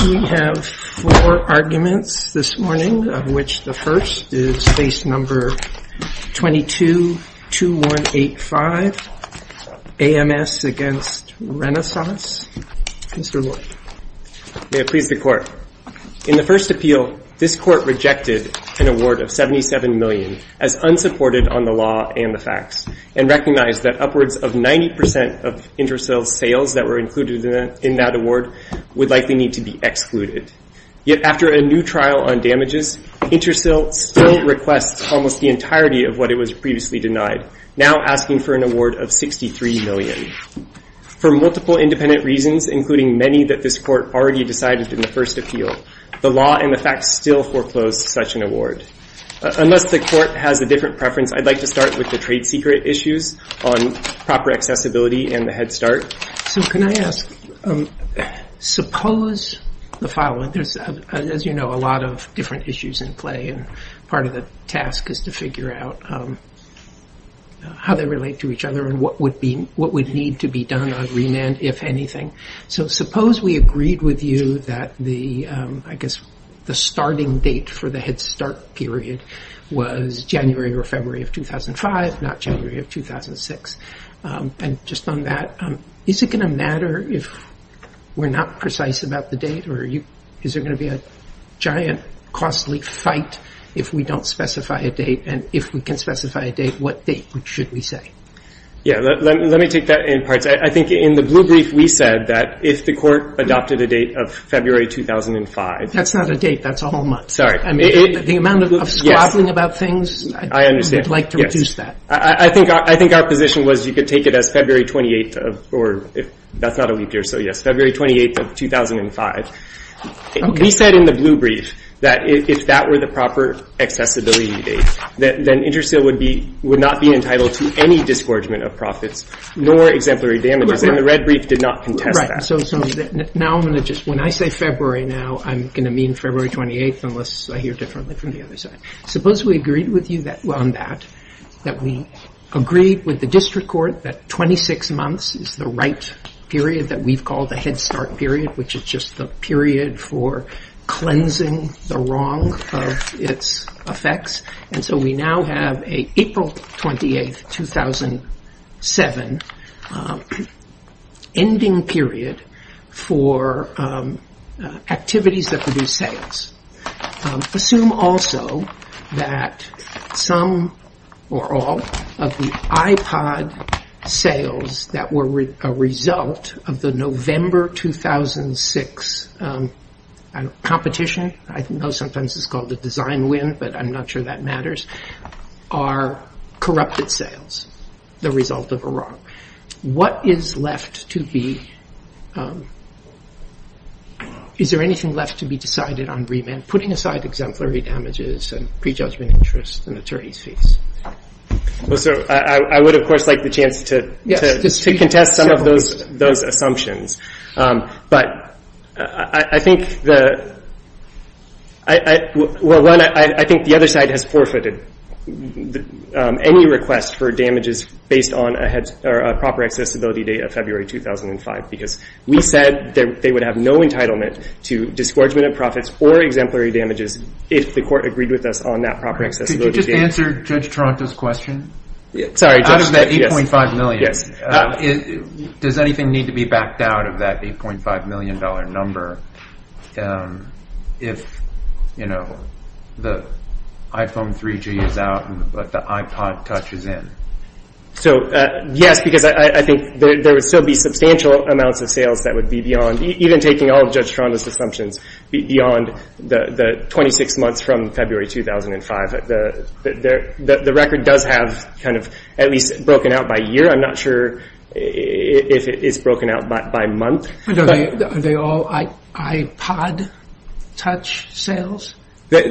We have four arguments this morning, of which the first is case number 22-2185, AMS v. Renesas. We agree with the court. In the first appeal, this court rejected an award of $77 million as unsupported on the law and the facts, and recognized that upwards of 90% of InterCell sales that were included in that award would likely need to be excluded. Yet after a new trial on damages, InterCell still requests almost the entirety of what it was previously denied, now asking for an award of $63 million. For multiple independent reasons, including many that this court already decided in the first appeal, the law and the facts still foreclose such an award. Unless the court has a different preference, I'd like to start with the trade secret issues on proper accessibility and the Head Start. So can I ask, suppose the following, as you know, a lot of different issues in play, and part of the task is to figure out how they relate to each other and what would need to be done on remand, if anything. So suppose we agreed with you that the, I guess, the starting date for the Head Start period was January or February of 2005, not January of 2006. And just on that, is it going to matter if we're not precise about the date? Or is there going to be a giant, costly fight if we don't specify a date, and if we can specify a date, what date should we say? Yeah, let me take that in parts. I think in the blue brief, we said that if the court adopted a date of February 2005... That's not a date, that's a whole month. Sorry. The amount of us grappling about things, we'd like to reduce that. I think our position was you could take it as February 28th of 2005. We said in the blue brief that if that were the proper accessibility date, then Intersteel would not be entitled to any disgorgement of profits nor exemplary damages, and the red brief did not contest that. Right, so when I say February now, I'm going to mean February 28th, unless I hear differently from the other side. Suppose we agreed with you on that, that we agreed with the district court that 26 months is the right period that we'd call the Head Start period, which is just a period for cleansing the wrong from its effects, and so we now have an April 28th, 2007 ending period for activities that could be sales. Assume also that some or all of the iPod sales that were a result of the November 2006 competition, I know sometimes it's called the design win, but I'm not sure that matters, are corrupted sales, the result of a wrong. What is left to be, is there anything left to be decided on remand, putting aside exemplary damages and prejudgment interest in the 30 seats? I would of course like the chance to contest some of those assumptions. I think the other side has forfeited any request for damages based on a proper accessibility date of February 2005, because we said that they would have no entitlement to disgorgement of profits or exemplary damages if the court agreed with us on that proper accessibility date. Could you just answer Judge Tronta's question? Sorry. Does anything need to be backed out of that $8.5 million number if, you know, the iPhone 3G is out and the iPod touches in? Yes, because I think there would still be substantial amounts of sales that would be beyond, even taking all of Judge Tronta's assumptions, beyond the 26 months from February 2005. The record does have kind of at least broken out by year. I'm not sure if it's broken out by month. Are they all iPod touch sales? Part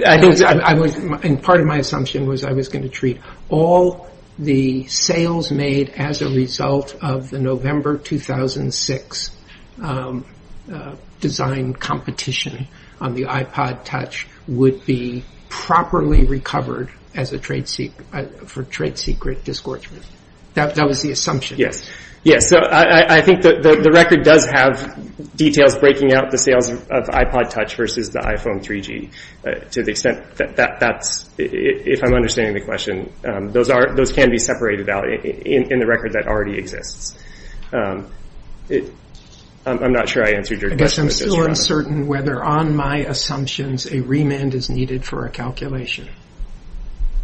of my assumption was I was going to treat all the sales made as a result of the November 2006 design competition on the iPod touch would be properly recovered for trade secret disgorgement. That was the assumption. I think the record does have details breaking out the sales of iPod touch versus the iPhone 3G to the extent that, if I'm understanding the question, those can be separated out in the record that already exists. I'm not sure I answered your question. I guess I'm still uncertain whether on my assumptions a remand is needed for a calculation,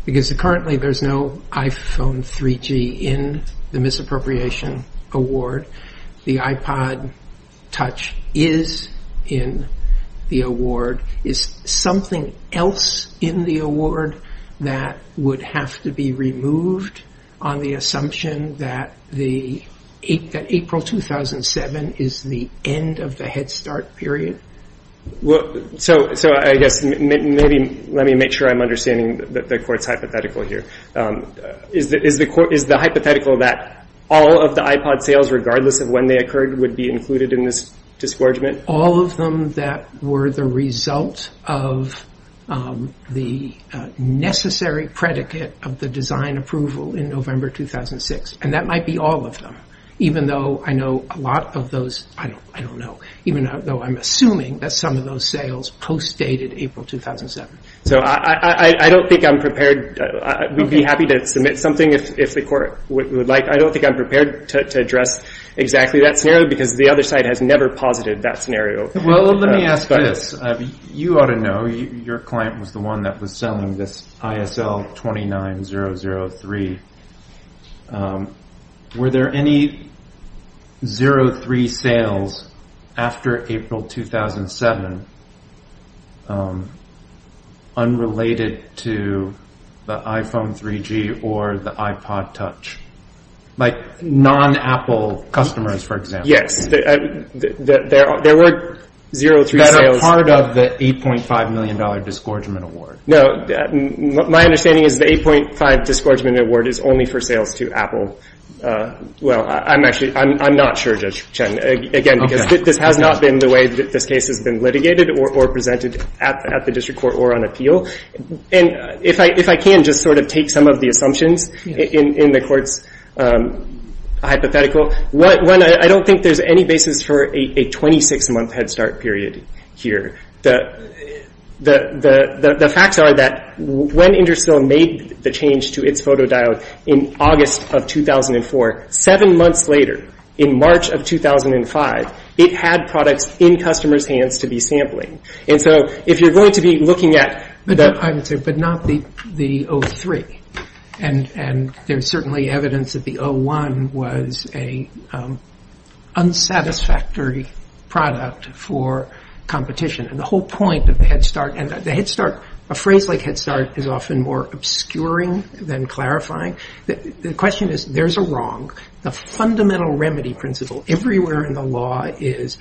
because currently there's no iPhone 3G in the misappropriation award. The iPod touch is in the award. Is something else in the award that would have to be removed on the assumption that April 2007 is the end of the Head Start period? Let me make sure I'm understanding the court's hypothetical here. Is the hypothetical that all of the iPod sales, regardless of when they occurred, would be included in this disgorgement? All of them that were the result of the necessary predicate of the design approval in November 2006. And that might be all of them, even though I know a lot of those, I don't know, even though I'm assuming that some of those sales post-dated April 2007. I don't think I'm prepared. We'd be happy to submit something if the court would like. I don't think I'm prepared to address exactly that scenario, because the other side has never posited that scenario. Well, let me ask this. You ought to know. Your client was the one that was selling this ISL 29003. Were there any 03 sales after April 2007 unrelated to the iPhone 3G or the iPod touch? Like non-Apple customers, for example. Yes. There were 03 sales. That are part of the $8.5 million disgorgement award. No. My understanding is the $8.5 million disgorgement award is only for sales to Apple. Well, I'm not sure, Judge Chen. Again, this has not been the way that this case has been litigated or presented at the district court or on appeal. If I can just sort of take some of the assumptions in the court's hypothetical. One, I don't think there's any basis for a 26-month head start period here. The facts are that when Intersteel made the change to its photo dial in August of 2004, seven months later, in March of 2005, it had products in customers' hands to be sampled. If you're going to be looking at... But not the 03. And there's certainly evidence that the 01 was an unsatisfactory product for competition. And the whole point of the head start... A phrase like head start is often more obscuring than clarifying. The question is, there's a wrong. The fundamental remedy principle everywhere in the law is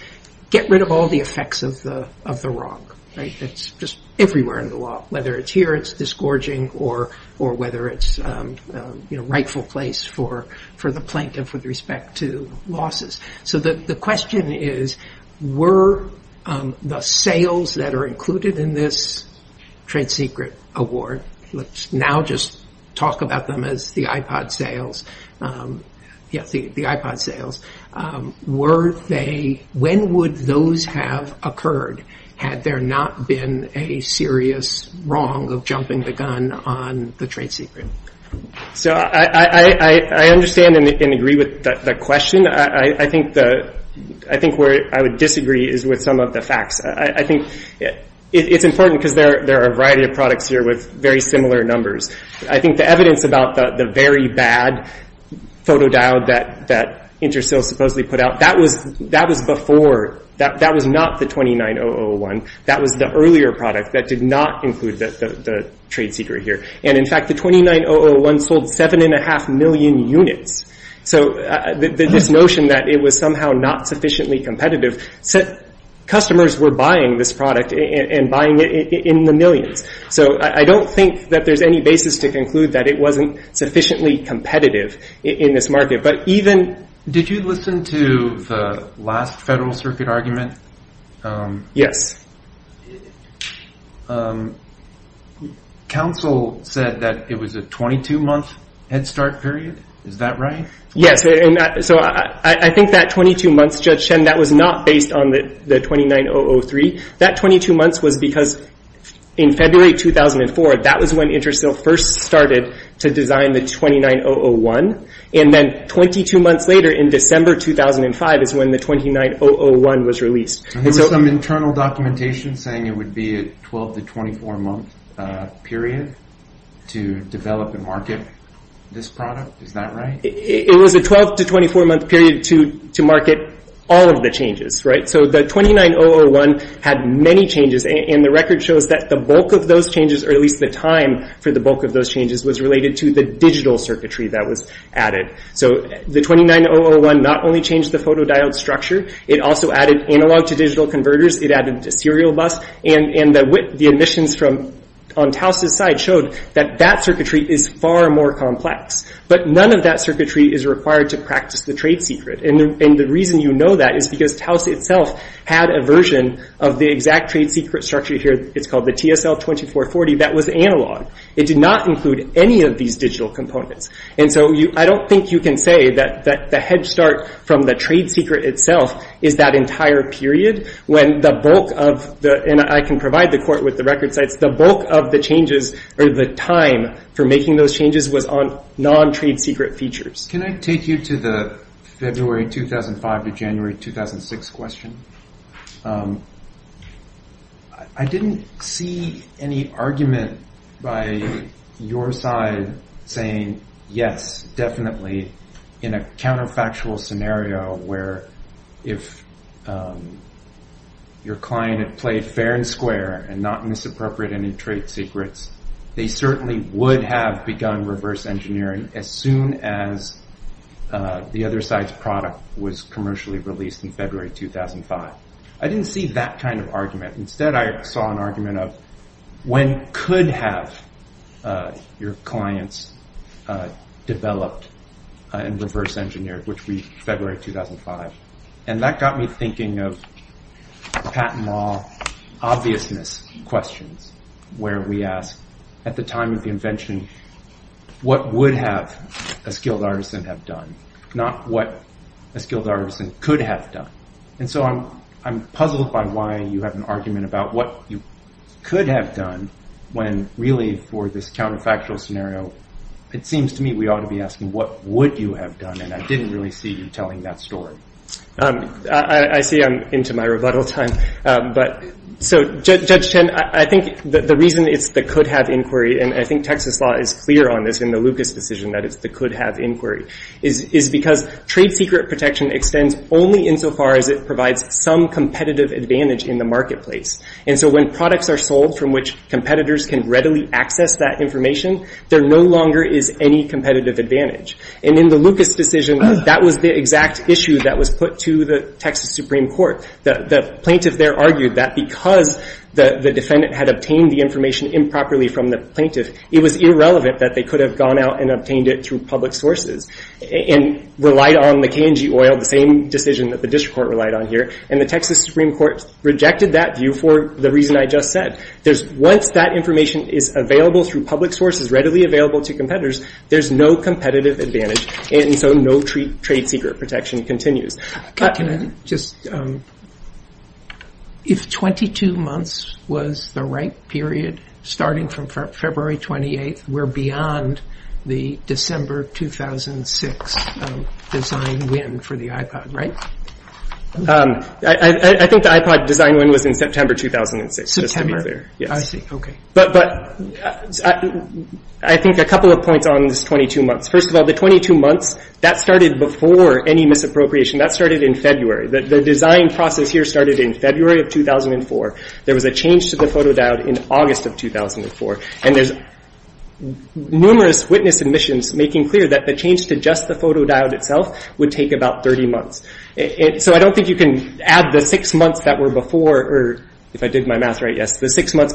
get rid of all the effects of the wrong. It's just everywhere in the law. Whether it's here, it's disgorging, or whether it's a rightful place for the plaintiff with respect to losses. So the question is, were the sales that are included in this trade secret award... Now just talk about them as the iPod sales. The iPod sales. Were they... When would those have occurred had there not been a serious wrong of jumping the gun on the trade secret? So I understand and agree with that question. I think where I would disagree is with some of the facts. I think it's important because there are a variety of products here with very similar numbers. I think the evidence about the very bad photo dial that Intersteel supposedly put out, that was before. That was not the 29-001. That was the earlier product that did not include the trade secret here. And in fact, the 29-001 sold 7.5 million units. So this notion that it was somehow not sufficiently competitive... Customers were buying this product and buying it in the millions. So I don't think that there's any basis to conclude that it wasn't sufficiently competitive in this market. But even... Did you listen to the last Federal Circuit argument? Yes. Counsel said that it was a 22-month head start period. Is that right? Yes. So I think that 22-month, Judge Shen, that was not based on the 29-003. That 22 months was because in February 2004, that was when Intersteel first started to design the 29-001. And then 22 months later in December 2005 is when the 29-001 was released. There was some internal documentation saying it would be a 12- to 24-month period to develop and market this product. Is that right? It was a 12- to 24-month period to market all of the changes. So the 29-001 had many changes, and the record shows that the bulk of those changes, or at least the time for the bulk of those changes, was related to the digital circuitry that was added. So the 29-001 not only changed the photodiode structure, it also added analog to digital converters, it added to serial bus, and the emissions on Tauss' side showed that that circuitry is far more complex. But none of that circuitry is required to practice the trade secret. And the reason you know that is because Tauss itself had a version of the exact trade secret structure here, it's called the TSL2440, that was analog. It did not include any of these digital components. And so I don't think you can say that the head start from the trade secret itself is that entire period, when the bulk of the, and I can provide the court with the records, but the bulk of the changes or the time for making those changes was on non-trade secret features. Can I take you to the February 2005 to January 2006 question? I didn't see any argument by your side saying yes, definitely, in a counterfactual scenario where if your client had played fair and square and not misappropriated any trade secrets, they certainly would have begun reverse engineering as soon as the other side's product was commercially released in February 2005. I didn't see that kind of argument. Instead I saw an argument of when could have your clients developed and reverse engineered, which would be February 2005. And that got me thinking of the patent law obviousness question, where we ask at the time of invention what would have a skilled artisan have done, not what a skilled artisan could have done. And so I'm puzzled by why you have an argument about what you could have done when really for this counterfactual scenario, it seems to me we ought to be asking what would you have done, and I didn't really see you telling that story. I see I'm into my rebuttal time. So Judge Chen, I think the reason it's the could have inquiry, and I think Texas law is clear on this in the Lucas decision that it's the could have inquiry, is because trade secret protection extends only insofar as it provides some competitive advantage in the marketplace. And so when products are sold from which competitors can readily access that information, there no longer is any competitive advantage. And in the Lucas decision, that was the exact issue that was put to the Texas Supreme Court. The plaintiff there argued that because the defendant had obtained the information improperly from the plaintiff, it was irrelevant that they could have gone out and obtained it through public sources, and relied on the K&G oil, the same decision that the district court relied on here. And the Texas Supreme Court rejected that view for the reason I just said. Once that information is available through public sources, readily available to competitors, there's no competitive advantage, and so no trade secret protection continues. If 22 months was the right period, starting from February 28th, we're beyond the December 2006 design win for the iPod, right? I think the iPod design win was in September 2006. September? I see, okay. But I think a couple of points on those 22 months. First of all, the 22 months, that started before any misappropriation. That started in February. The design process here started in February of 2004. There was a change to the photodiode in August of 2004. And there's numerous witness submissions making clear that the change to just the photodiode itself would take about 30 months. So I don't think you can add the six months that were before, or if I did my math right, yes, the six months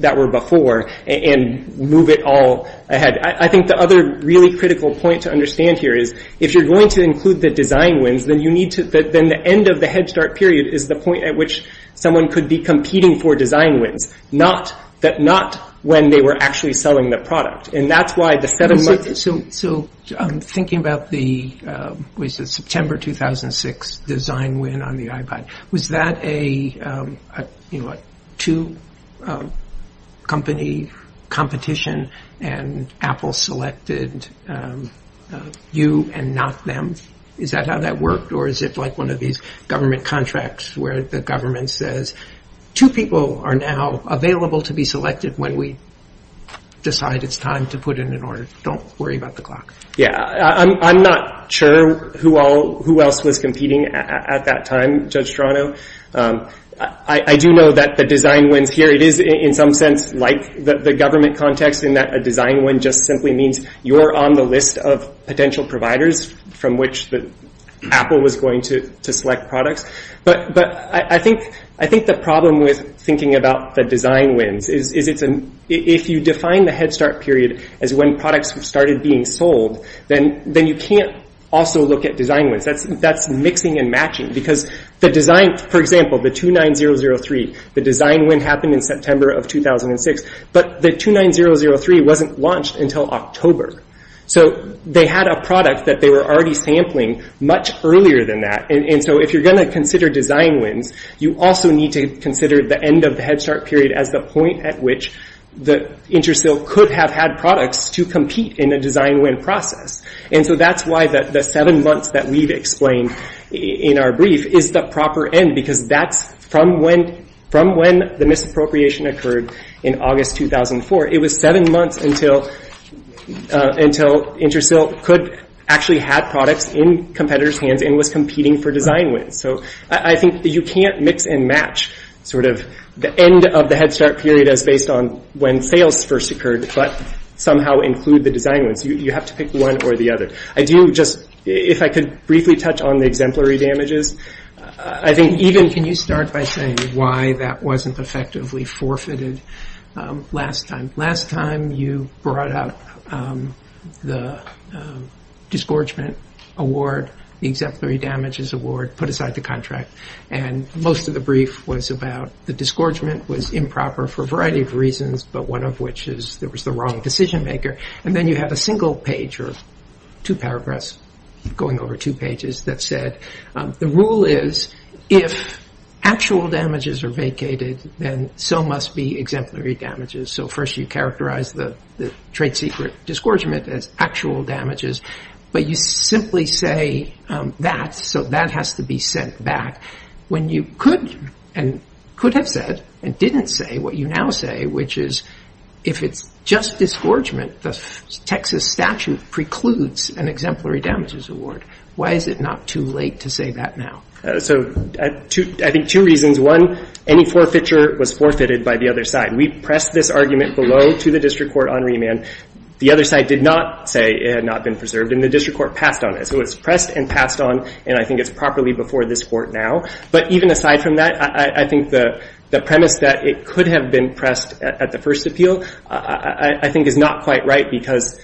that were before, and move it all ahead. I think the other really critical point to understand here is, if you're going to include the design wins, then the end of the Head Start period is the point at which someone could be competing for design wins, not when they were actually selling the product. So I'm thinking about the September 2006 design win on the iPod. Was that a two-company competition and Apple selected you and not them? Is that how that worked? Or is it like one of these government contracts where the government says, two people are now available to be selected when we decide it's time to put in an order. Don't worry about the clock. I'm not sure who else was competing at that time, Judge Strano. I do know that the design wins here, it is in some sense like the government context in that a design win just simply means you're on the list of potential providers from which Apple was going to select products. But I think the problem with thinking about the design wins is if you define the Head Start period as when products started being sold, then you can't also look at design wins. That's mixing and matching because the design, for example, the 29003, the design win happened in September of 2006, but the 29003 wasn't launched until October. So they had a product that they were already sampling much earlier than that. And so if you're going to consider design wins, you also need to consider the end of the Head Start period as the point at which the InterSilk could have had products to compete in a design win process. And so that's why the seven months that we've explained in our brief is the proper end because that's from when the misappropriation occurred in August 2004. It was seven months until InterSilk could actually have products in competitors' hands and was competing for design wins. So I think you can't mix and match sort of the end of the Head Start period as based on when sales first occurred but somehow include the design wins. You have to pick one or the other. I do just, if I could briefly touch on the exemplary damages, I think even... Can you start by saying why that wasn't effectively forfeited last time? Last time you brought up the disgorgement award, the exemplary damages award, put aside the contract. And most of the brief was about the disgorgement was improper for a variety of reasons, but one of which is it was the wrong decision maker. And then you have a single page or two paragraphs going over two pages that said, the rule is if actual damages are vacated, then so must be exemplary damages. So first you characterize the trade secret disgorgement as actual damages. But you simply say that, so that has to be sent back. When you could and could have said and didn't say what you now say, which is if it's just disgorgement, the Texas statute precludes an exemplary damages award. Why is it not too late to say that now? So I think two reasons. One, any forfeiture was forfeited by the other side. We pressed this argument below to the district court on remand. The other side did not say it had not been preserved, and the district court passed on it. So it was pressed and passed on, and I think it's properly before this court now. But even aside from that, I think the premise that it could have been pressed at the first appeal, I think is not quite right because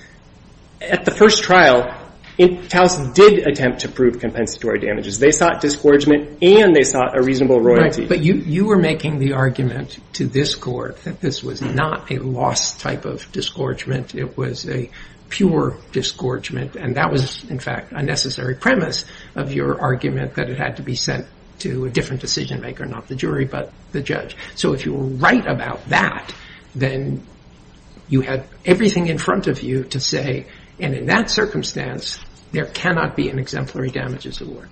at the first trial, Towson did attempt to prove compensatory damages. They sought disgorgement and they sought a reasonable royalty. But you were making the argument to this court that this was not a lost type of disgorgement. It was a pure disgorgement, and that was, in fact, a necessary premise of your argument that it had to be sent to a different decision maker, not the jury, but the judge. So if you were right about that, then you have everything in front of you to say, and in that circumstance, there cannot be an exemplary damages award.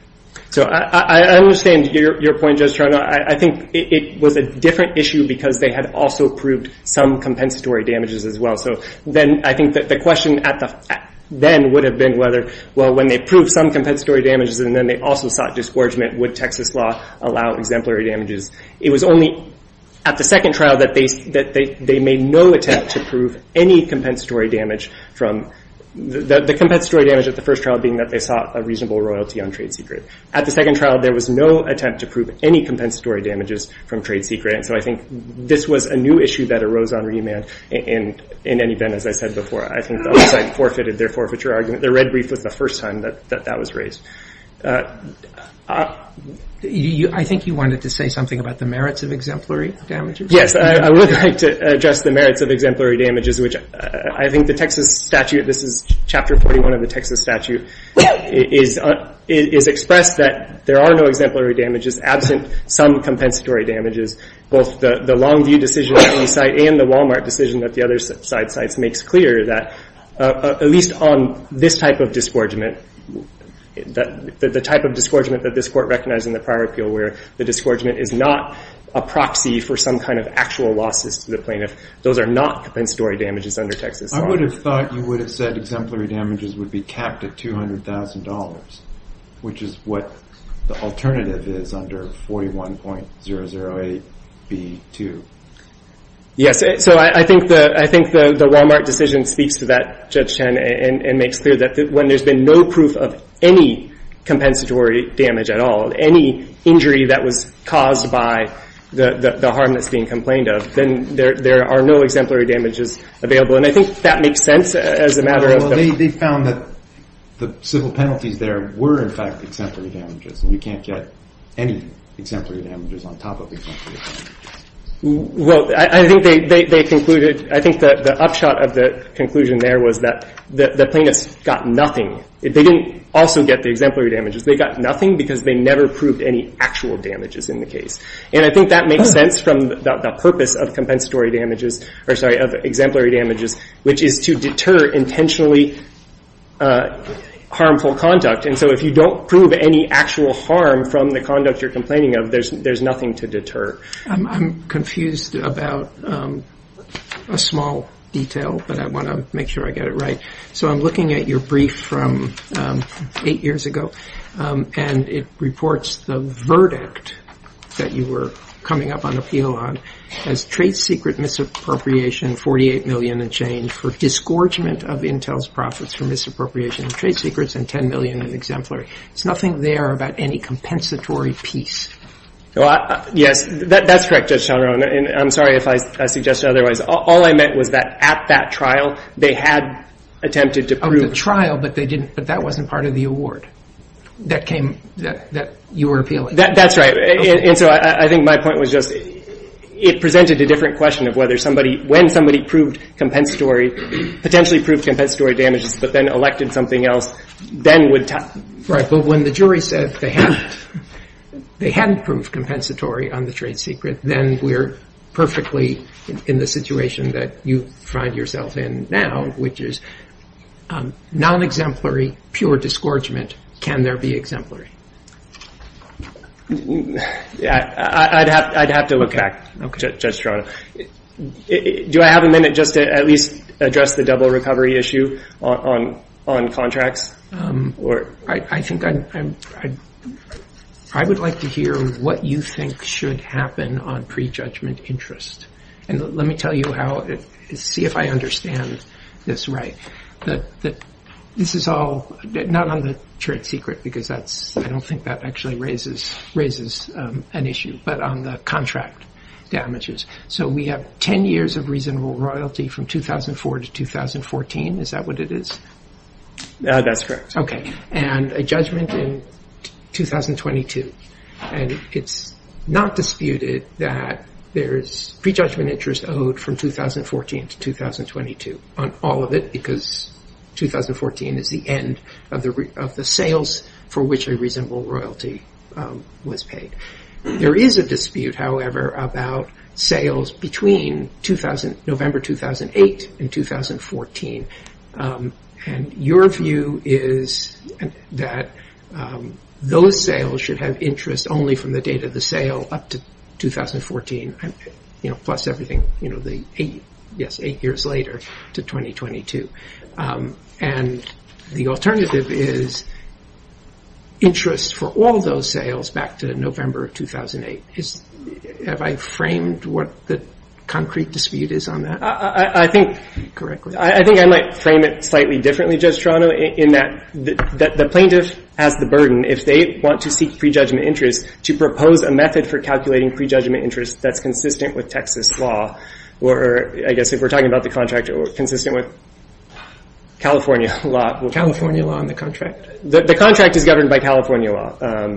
So I understand your point, Judge Sharma. I think it was a different issue because they had also proved some compensatory damages as well. So then I think that the question then would have been whether, well, when they proved some compensatory damages, and then they also sought disgorgement, would Texas law allow exemplary damages? It was only at the second trial that they made no attempt to prove any compensatory damage. The compensatory damage at the first trial being that they sought a reasonable royalty on trade secrets. At the second trial, there was no attempt to prove any compensatory damages from trade secrets. So I think this was a new issue that arose on remand in any event, as I said before. I think they forfeited their forfeiture argument. The red brief was the first time that that was raised. I think you wanted to say something about the merits of exemplary damages. Yes, I would like to address the merits of exemplary damages. I think the Texas statute, this is Chapter 41 of the Texas statute, is expressed that there are no exemplary damages absent some compensatory damages. Both the Longview decision on one side and the Walmart decision that the other side makes clear that at least on this type of disgorgement, the type of disgorgement that this court recognized in the prior appeal where the disgorgement is not a proxy for some kind of actual losses to the plaintiff, those are not compensatory damages under Texas law. I would have thought you would have said exemplary damages would be capped at $200,000, which is what the alternative is under 41.008B2. Yes, so I think the Walmart decision speaks to that, Judge Chen, and makes clear that when there's been no proof of any compensatory damage at all, any injury that was caused by the harm that's being complained of, then there are no exemplary damages available. And I think that makes sense as a matter of- Well, they found that the civil penalties there were, in fact, exemplary damages. We can't get any exemplary damages on top of exemplary damages. Well, I think they concluded, I think the upshot of the conclusion there was that the plaintiffs got nothing. They didn't also get the exemplary damages. They got nothing because they never proved any actual damages in the case. And I think that makes sense from the purpose of exemplary damages, which is to deter intentionally harmful conduct. And so if you don't prove any actual harm from the conduct you're complaining of, there's nothing to deter. I'm confused about a small detail, but I want to make sure I get it right. So I'm looking at your brief from eight years ago, and it reports the verdict that you were coming up on appeal on as trade secret misappropriation, $48 million in change for disgorgement of Intel's profits for misappropriation of trade secrets and $10 million in exemplary. There's nothing there about any compensatory piece. Yeah, that's correct, Judge Shonron. I'm sorry if I suggested otherwise. All I meant was that at that trial they had attempted to prove- At the trial, but that wasn't part of the award that you were appealing. That's right. And so I think my point was just it presented a different question of whether somebody, when somebody proved compensatory, potentially proved compensatory damages but then elected something else, then would- Right, but when the jury said they hadn't proved compensatory on the trade secret, then we're perfectly in the situation that you find yourself in now, which is non-exemplary, pure disgorgement. Can there be exemplary? I'd have to look back, Judge Shonron. Do I have a minute just to at least address the double recovery issue on contracts? I think I would like to hear what you think should happen on prejudgment interest, and let me tell you how to see if I understand this right. This is all not on the trade secret because I don't think that actually raises an issue, but on the contract damages. So we have 10 years of reasonable royalty from 2004 to 2014. Is that what it is? That's correct. Okay, and a judgment in 2022. And it's not disputed that there's prejudgment interest owed from 2014 to 2022 on all of it because 2014 is the end of the sales for which a reasonable royalty was paid. There is a dispute, however, about sales between November 2008 and 2014, and your view is that those sales should have interest only from the date of the sale up to 2014, plus everything eight years later to 2022. And the alternative is interest for all those sales back to November 2008. Have I framed what the concrete dispute is on that? I think I might frame it slightly differently, Judge Toronto, in that the plaintiffs have the burden, if they want to seek prejudgment interest, to propose a method for calculating prejudgment interest that's consistent with Texas law, or I guess if we're talking about the contract, consistent with California law. California law in the contract. The contract is governed by California law.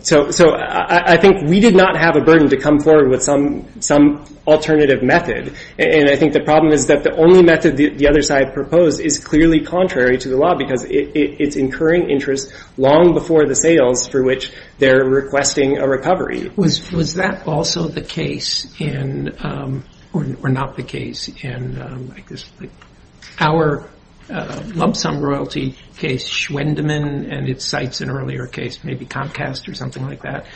So I think we did not have a burden to come forward with some alternative method, and I think the problem is that the only method the other side proposed is clearly contrary to the law because it's incurring interest long before the sales for which they're requesting a recovery. Was that also the case, or not the case, in our lump-sum royalty case, Schwendemann, and its sites in an earlier case, maybe Comcast or something like that?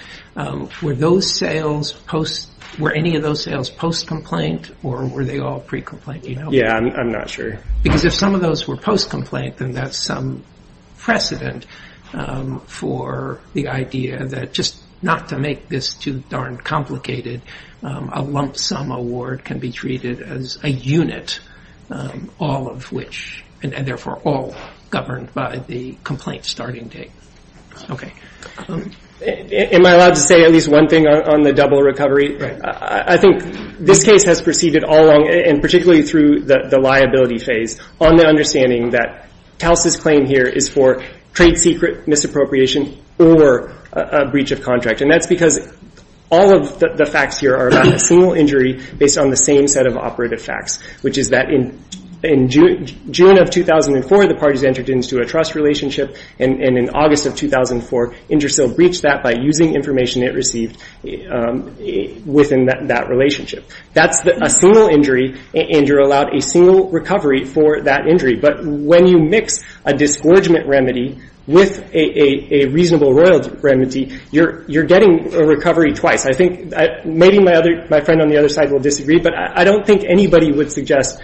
Were any of those sales post-complaint, or were they all pre-complaint? Yeah, I'm not sure. Because if some of those were post-complaint, then that's precedent for the idea that just not to make this too darn complicated, a lump-sum award can be treated as a unit, all of which, and therefore all governed by the complaint starting date. Okay. Am I allowed to say at least one thing on the double recovery? I think this case has proceeded all along, and particularly through the liability phase, on the understanding that TALS's claim here is for trade secret misappropriation or a breach of contract. And that's because all of the facts here are about a single injury based on the same set of operative facts, which is that in June of 2004, the parties entered into a trust relationship, and in August of 2004, InterCell breached that by using information it received within that relationship. That's a single injury, and you're allowed a single recovery for that injury. But when you mix a disgorgement remedy with a reasonable royalty remedy, you're getting a recovery twice. I think maybe my friend on the other side will disagree, but I don't think anybody would suggest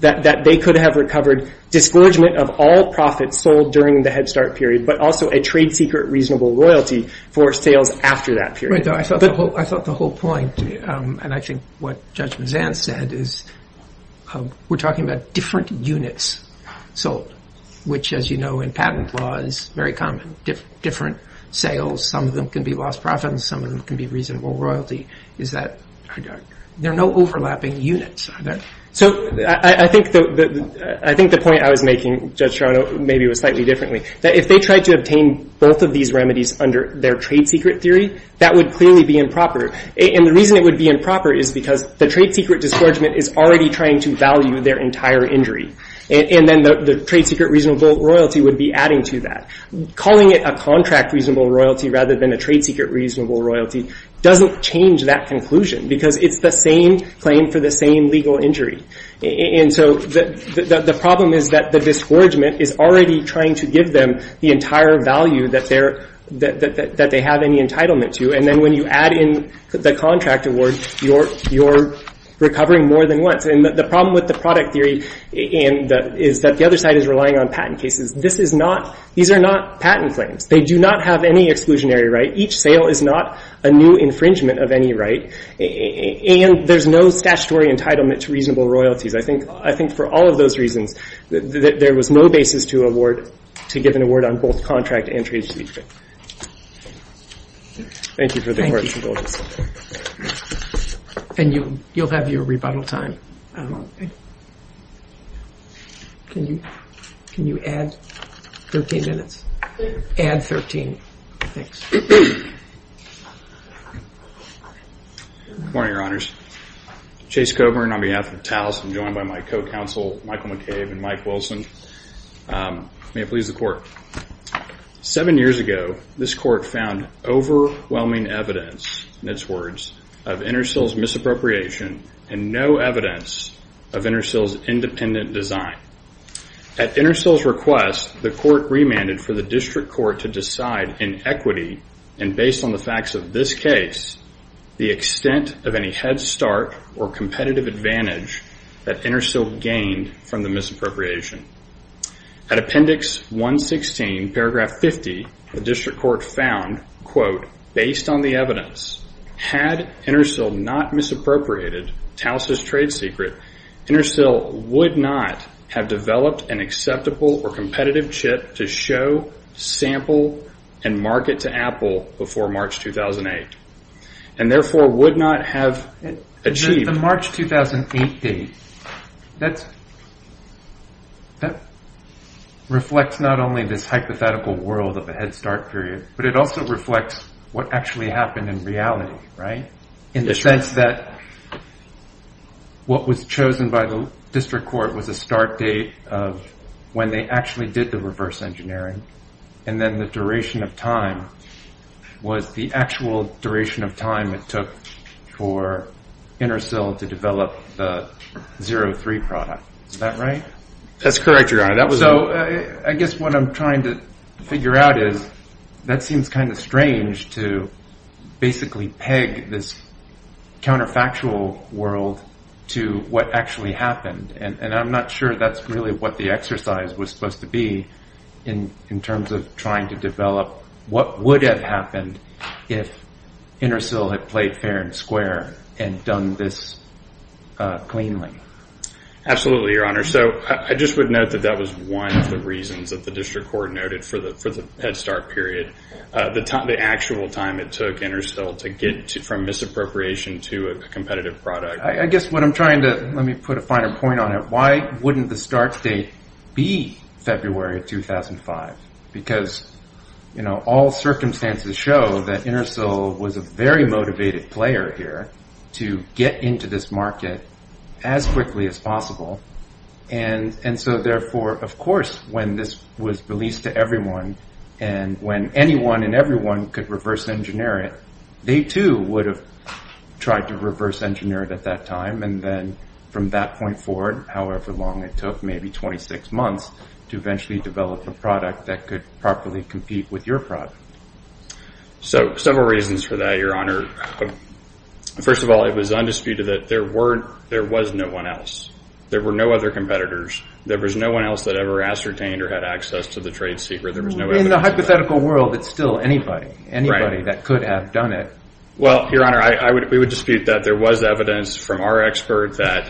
that they could have recovered disgorgement of all profits sold during the Head Start period, but also a trade secret reasonable royalty for sales after that period. I thought the whole point, and I think what Judge Vann said, is we're talking about different units sold, which as you know in patent law is very common, different sales. Some of them can be lost profit, and some of them can be reasonable royalty. There are no overlapping units. I think the point I was making, Judge Toronto, maybe was slightly differently. If they tried to obtain both of these remedies under their trade secret theory, that would clearly be improper, and the reason it would be improper is because the trade secret disgorgement is already trying to value their entire injury, and then the trade secret reasonable royalty would be adding to that. Calling it a contract reasonable royalty rather than a trade secret reasonable royalty doesn't change that conclusion because it's the same claim for the same legal injury. The problem is that the disgorgement is already trying to give them the entire value that they have any entitlement to, and then when you add in the contract award, you're recovering more than once. The problem with the product theory is that the other side is relying on patent cases. These are not patent claims. They do not have any exclusionary right. Each sale is not a new infringement of any right, and there's no statutory entitlement to reasonable royalties. I think for all of those reasons, there was no basis to get an award on both contract and trade secret. Thank you for the question, both of you. And you'll have your rebuttal time. Can you add 13 minutes? Add 13. Good morning, Your Honors. Chase Coburn on behalf of TALS, I'm joined by my co-counsel Michael McCabe and Mike Wilson. May it please the Court. Seven years ago, this Court found overwhelming evidence, in its words, of Intersil's misappropriation and no evidence of Intersil's independent design. At Intersil's request, the Court remanded for the District Court to decide in equity, and based on the facts of this case, the extent of any head start or competitive advantage that Intersil gained from the misappropriation. At Appendix 116, Paragraph 50, the District Court found, quote, based on the evidence, had Intersil not misappropriated TALS's trade secret, Intersil would not have developed an acceptable or competitive chip to show, sample, and market to Apple before March 2008, and therefore would not have achieved. The March 2008 date, that reflects not only this hypothetical world of a head start period, but it also reflects what actually happened in reality, right? In the sense that what was chosen by the District Court was a start date of when they actually did the reverse engineering, and then the duration of time was the actual duration of time it took for Intersil to develop the 03 product. Is that right? That's correct, Your Honor. So I guess what I'm trying to figure out is that seems kind of strange to basically peg this counterfactual world to what actually happened, and I'm not sure that's really what the exercise was supposed to be in terms of trying to develop what would have happened if Intersil had played fair and square and done this cleanly. Absolutely, Your Honor. So I just would note that that was one of the reasons that the District Court noted for the head start period, the actual time it took Intersil to get from misappropriation to a competitive product. I guess what I'm trying to – let me put a finer point on it. Why wouldn't the start date be February 2005? Because all circumstances show that Intersil was a very motivated player here to get into this market as quickly as possible, and so therefore, of course, when this was released to everyone and when anyone and everyone could reverse engineer it, they, too, would have tried to reverse engineer it at that time and then from that point forward, however long it took, maybe 26 months, to eventually develop a product that could properly compete with your product. So several reasons for that, Your Honor. First of all, it was undisputed that there was no one else. There were no other competitors. There was no one else that ever ascertained or had access to the trade secret. In the hypothetical world, it's still anybody. Anybody that could have done it. Well, Your Honor, we would dispute that. There was evidence from our expert that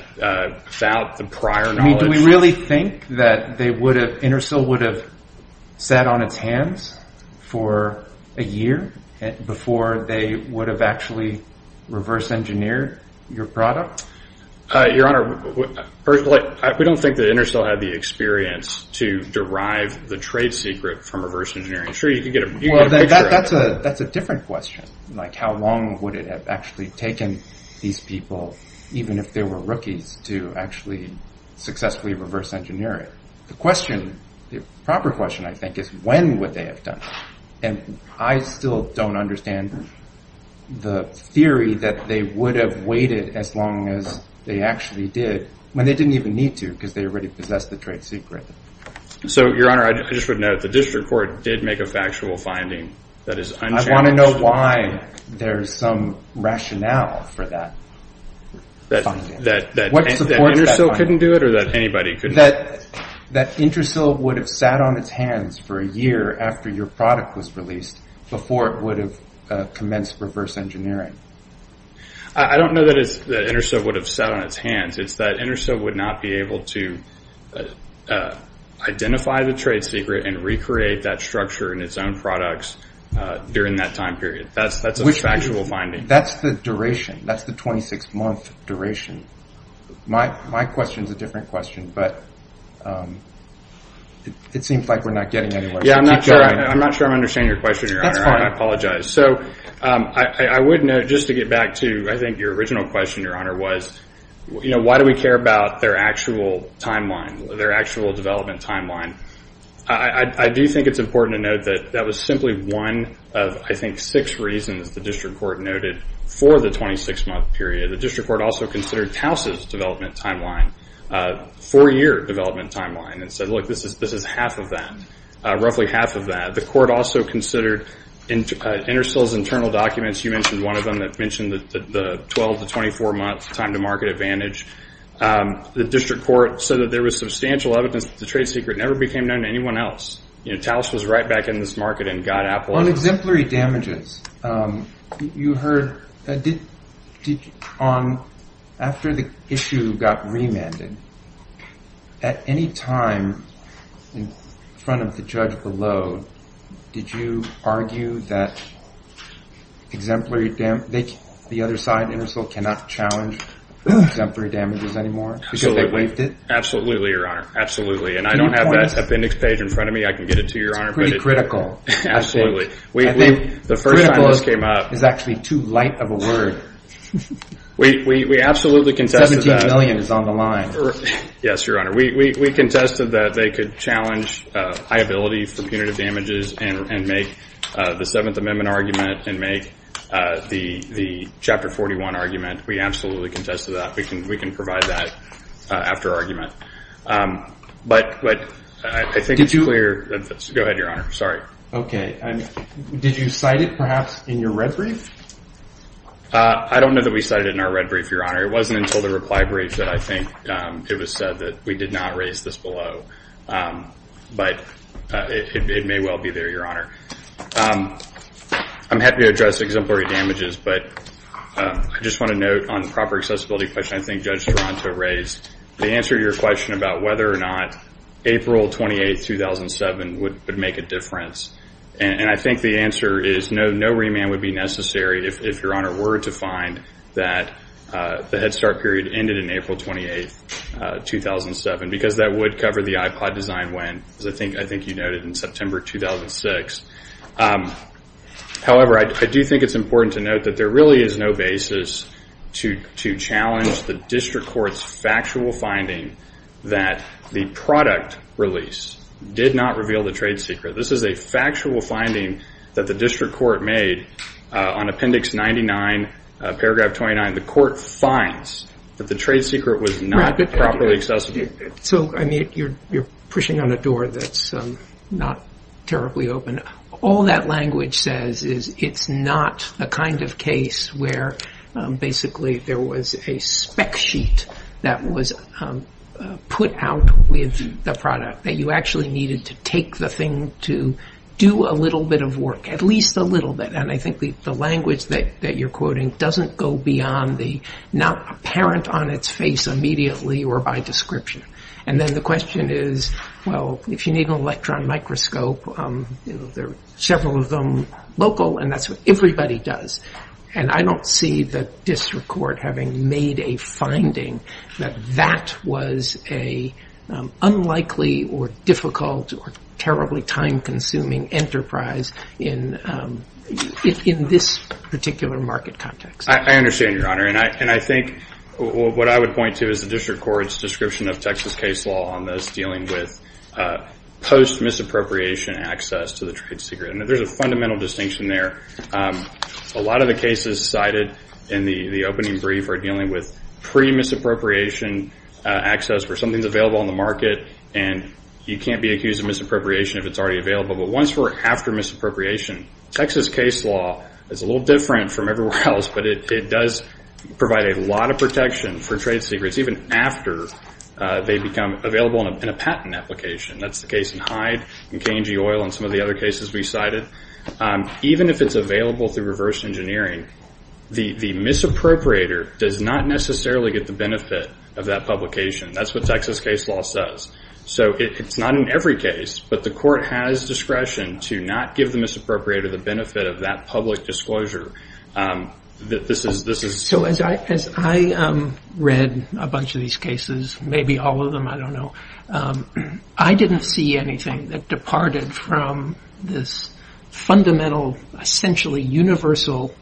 found the prior knowledge. Do we really think that Intersil would have sat on its hands for a year before they would have actually reverse engineered your product? Your Honor, we don't think that Intersil had the experience to derive the trade secret from a reverse engineering tree. That's a different question. Like how long would it have actually taken these people, even if they were rookies, to actually successfully reverse engineer it? The proper question, I think, is when would they have done it? And I still don't understand the theory that they would have waited as long as they actually did when they didn't even need to because they already possessed the trade secret. So, Your Honor, I just would note the district court did make a factual finding. I want to know why there's some rationale for that. That Intersil couldn't do it or that anybody couldn't do it? That Intersil would have sat on its hands for a year after your product was released before it would have commenced reverse engineering. I don't know that Intersil would have sat on its hands. It's that Intersil would not be able to identify the trade secret and recreate that structure in its own products during that time period. That's a factual finding. That's the duration. That's the 26-month duration. My question is a different question, but it seems like we're not getting anywhere. I'm not sure I understand your question, Your Honor. I apologize. So, I would note, just to get back to, I think, your original question, Your Honor, was, you know, why do we care about their actual timeline, their actual development timeline? I do think it's important to note that that was simply one of, I think, six reasons that the district court noted for the 26-month period. The district court also considered Towson's development timeline, four-year development timeline, and said, look, this is half of that, roughly half of that. The court also considered Intersil's internal documents. You mentioned one of them that mentioned the 12- to 24-month time to market advantage. The district court said that there was substantial evidence that the trade secret never became known to anyone else. You know, Towson was right back in this market and got Apple. On exemplary damages, you heard, after the issue got remanded, at any time in front of the judge below, did you argue that exemplary damage, the other side, Intersil, cannot challenge exemplary damages anymore? Absolutely, Your Honor. Absolutely. And I don't have that appendix page in front of me. I can get it to you, Your Honor. Pretty critical. Absolutely. The first time this came out, It's actually too light of a word. We absolutely contested that. Yes, Your Honor. We contested that they could challenge liability for punitive damages and make the Seventh Amendment argument and make the Chapter 41 argument. We absolutely contested that. We can provide that after our argument. But I think it's clear. Go ahead, Your Honor. Sorry. Okay. Did you cite it, perhaps, in your red brief? I don't know that we cited it in our red brief, Your Honor. It wasn't until the reply brief that I think it was said that we did not raise this below. But it may well be there, Your Honor. I'm happy to address exemplary damages, but I just want to note on the proper accessibility question I think Judge Taranto raised. The answer to your question about whether or not April 28, 2007 would make a difference, and I think the answer is no remand would be necessary if Your Honor were to find that the Head Start period ended in April 28, 2007, because that would cover the iPod design win, as I think you noted, in September 2006. However, I do think it's important to note that there really is no basis to challenge the District Court's factual finding that the product release did not reveal the trade secret. This is a factual finding that the District Court made on Appendix 99, Paragraph 29. The Court finds that the trade secret was not properly accessible. So, I mean, you're pushing on a door that's not terribly open. All that language says is it's not the kind of case where, basically, there was a spec sheet that was put out with the product, that you actually needed to take the thing to do a little bit of work, at least a little bit. And I think the language that you're quoting doesn't go beyond the not apparent on its face immediately or by description. And then the question is, well, if you need an electron microscope, there are several of them local, and that's what everybody does. And I don't see the District Court having made a finding that that was an unlikely or difficult or terribly time-consuming enterprise in this particular market context. I understand, Your Honor, and I think what I would point to is the District Court's description of Texas case law on those dealing with post-misappropriation access to the trade secret. There's a fundamental distinction there. A lot of the cases cited in the opening brief are dealing with pre-misappropriation access for something available on the market, and you can't be accused of misappropriation if it's already available. But once we're after misappropriation, Texas case law is a little different from everywhere else, but it does provide a lot of protection for trade secrets, even after they become available in a patent application. That's the case in Hyde and K&G Oil and some of the other cases we cited. Even if it's available through reverse engineering, the misappropriator does not necessarily get the benefit of that publication. That's what Texas case law says. So it's not in every case, but the court has discretion to not give the misappropriator the benefit of that public disclosure. So as I read a bunch of these cases, maybe all of them, I don't know, I didn't see anything that departed from this fundamental, essentially universal,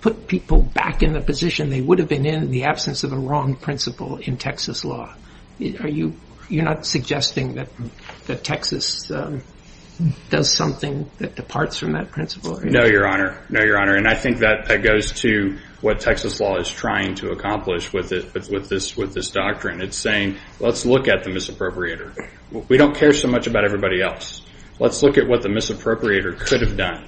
put people back in the position they would have been in in the absence of a wrong principle in Texas law. You're not suggesting that Texas does something that departs from that principle? No, Your Honor. No, Your Honor. And I think that goes to what Texas law is trying to accomplish with this doctrine. It's saying, let's look at the misappropriator. We don't care so much about everybody else. Let's look at what the misappropriator could have done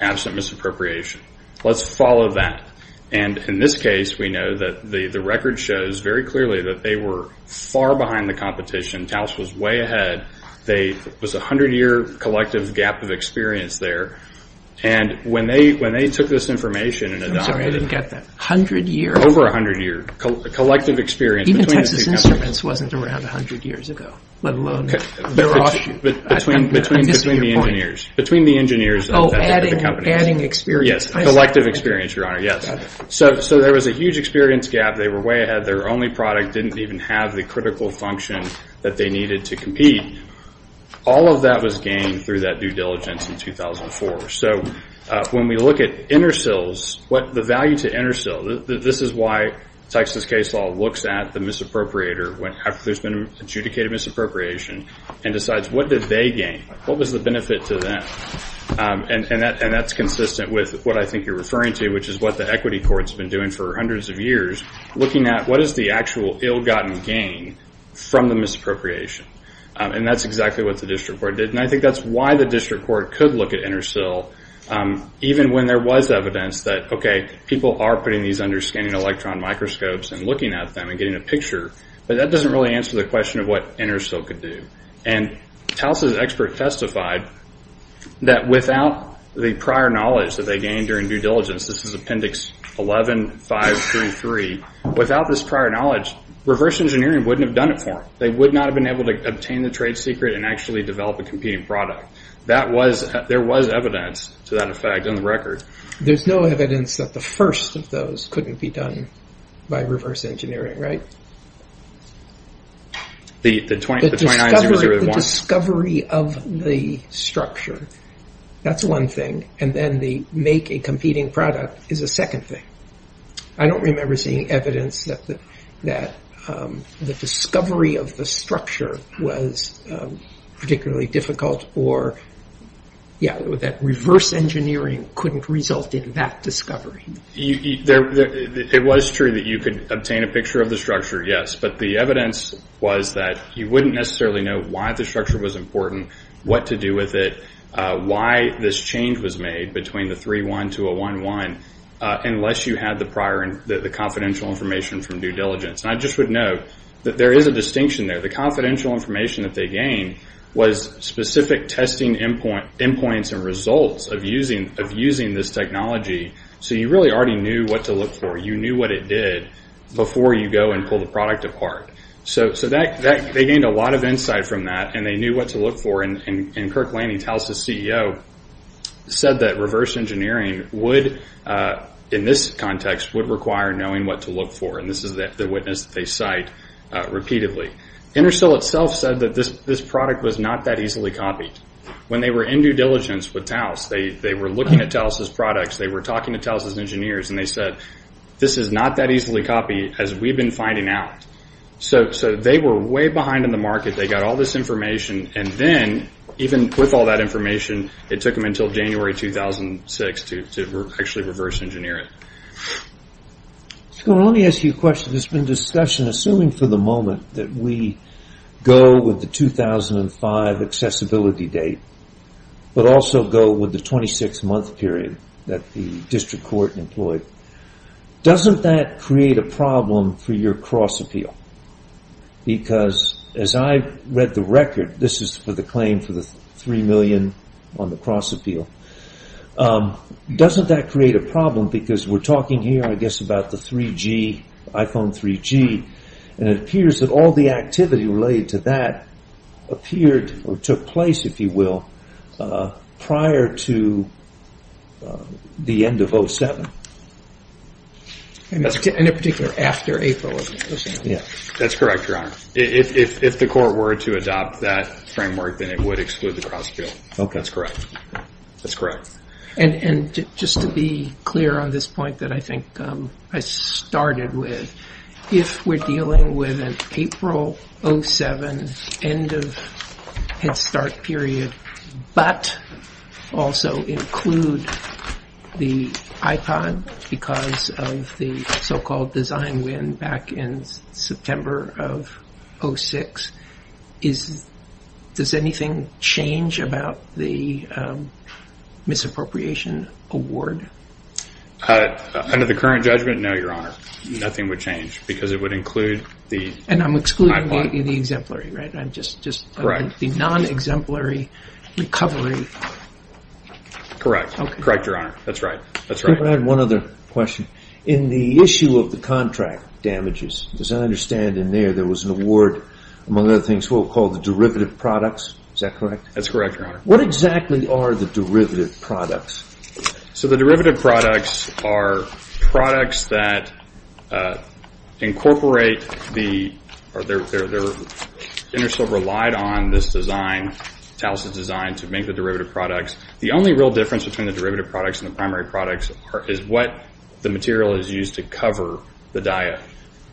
absent misappropriation. Let's follow that. And in this case, we know that the record shows very clearly that they were far behind the competition. Taos was way ahead. There was a hundred-year collective gap of experience there. And when they took this information and adopted it. I'm sorry, I didn't get that. A hundred years? Over a hundred years. Collective experience between the two customers. Even if this instance wasn't going to have a hundred years ago, let alone the lawsuit. Between the engineers. Oh, adding experience. Yes, collective experience, Your Honor, yes. So there was a huge experience gap. They were way ahead. Their only product didn't even have the critical function that they needed to compete. All of that was gained through that due diligence in 2004. So when we look at intercills, the value to intercill, this is why Texas case law looks at the misappropriator. There's been adjudicated misappropriation. And decides what did they gain? What was the benefit to them? And that's consistent with what I think you're referring to, which is what the equity court has been doing for hundreds of years. Looking at what is the actual ill-gotten gain from the misappropriation. And that's exactly what the district court did. And I think that's why the district court could look at intercill. Even when there was evidence that, okay, people are putting these under scanning electron microscopes and looking at them and getting a picture. But that doesn't really answer the question of what intercill could do. And TALS's expert testified that without the prior knowledge that they gained during due diligence, this is appendix 11-533. Without this prior knowledge, reverse engineering wouldn't have done it for them. They would not have been able to obtain the trade secret and actually develop a competing product. There was evidence to that effect in the record. There's no evidence that the first of those couldn't be done by reverse engineering, right? The discovery of the structure. That's one thing. And then the make a competing product is a second thing. I don't remember seeing evidence that the discovery of the structure was particularly difficult or, yeah, that reverse engineering couldn't result in that discovery. It was true that you could obtain a picture of the structure, yes. But the evidence was that you wouldn't necessarily know why the structure was important, what to do with it, why this change was made between the 3-1 to a 1-1 unless you had the prior and the confidential information from due diligence. And I just would note that there is a distinction there. The confidential information that they gained was specific testing endpoints and results of using this technology. So you really already knew what to look for. You knew what it did before you go and pull the product apart. So they gained a lot of insight from that, and they knew what to look for. And Kirk Laney, TALS's CEO, said that reverse engineering would, in this context, would require knowing what to look for. And this is the witness that they cite repeatedly. Intersil itself said that this product was not that easily copied. When they were in due diligence with TALS, they were looking at TALS's products, they were talking to TALS's engineers, and they said, this is not that easily copied as we've been finding out. So they were way behind in the market. They got all this information. And then, even with all that information, it took them until January 2006 to actually reverse engineer it. So let me ask you a question. There's been discussion, assuming for the moment, that we go with the 2005 accessibility date, but also go with the 26-month period that the district court employed. Doesn't that create a problem for your cross-appeal? Because, as I read the record, this is for the claim for the $3 million on the cross-appeal. Doesn't that create a problem? Because we're talking here, I guess, about the 3G, ICON 3G, and it appears that all the activity related to that appeared or took place, if you will, prior to the end of 07. In particular, after April. That's correct, Your Honor. If the court were to adopt that framework, then it would exclude the cross-appeal. Okay, that's correct. And just to be clear on this point that I think I started with, if we're dealing with an April 07 end of Head Start period, but also include the ICON because of the so-called design win back in September of 06, does anything change about the misappropriation award? Under the current judgment, no, Your Honor. Nothing would change because it would include the... And I'm excluding the exemplary, right? Just the non-exemplary recovery. Correct. Correct, Your Honor. That's right. If I had one other question. In the issue of the contract damages, as I understand in there, there was an award, among other things, we'll call the derivative products. Is that correct? That's correct, Your Honor. What exactly are the derivative products? So, the derivative products are products that incorporate the... Intersilver relied on this design, Talisman's design, to make the derivative products. The only real difference between the derivative products and the primary products is what the material is used to cover the diet.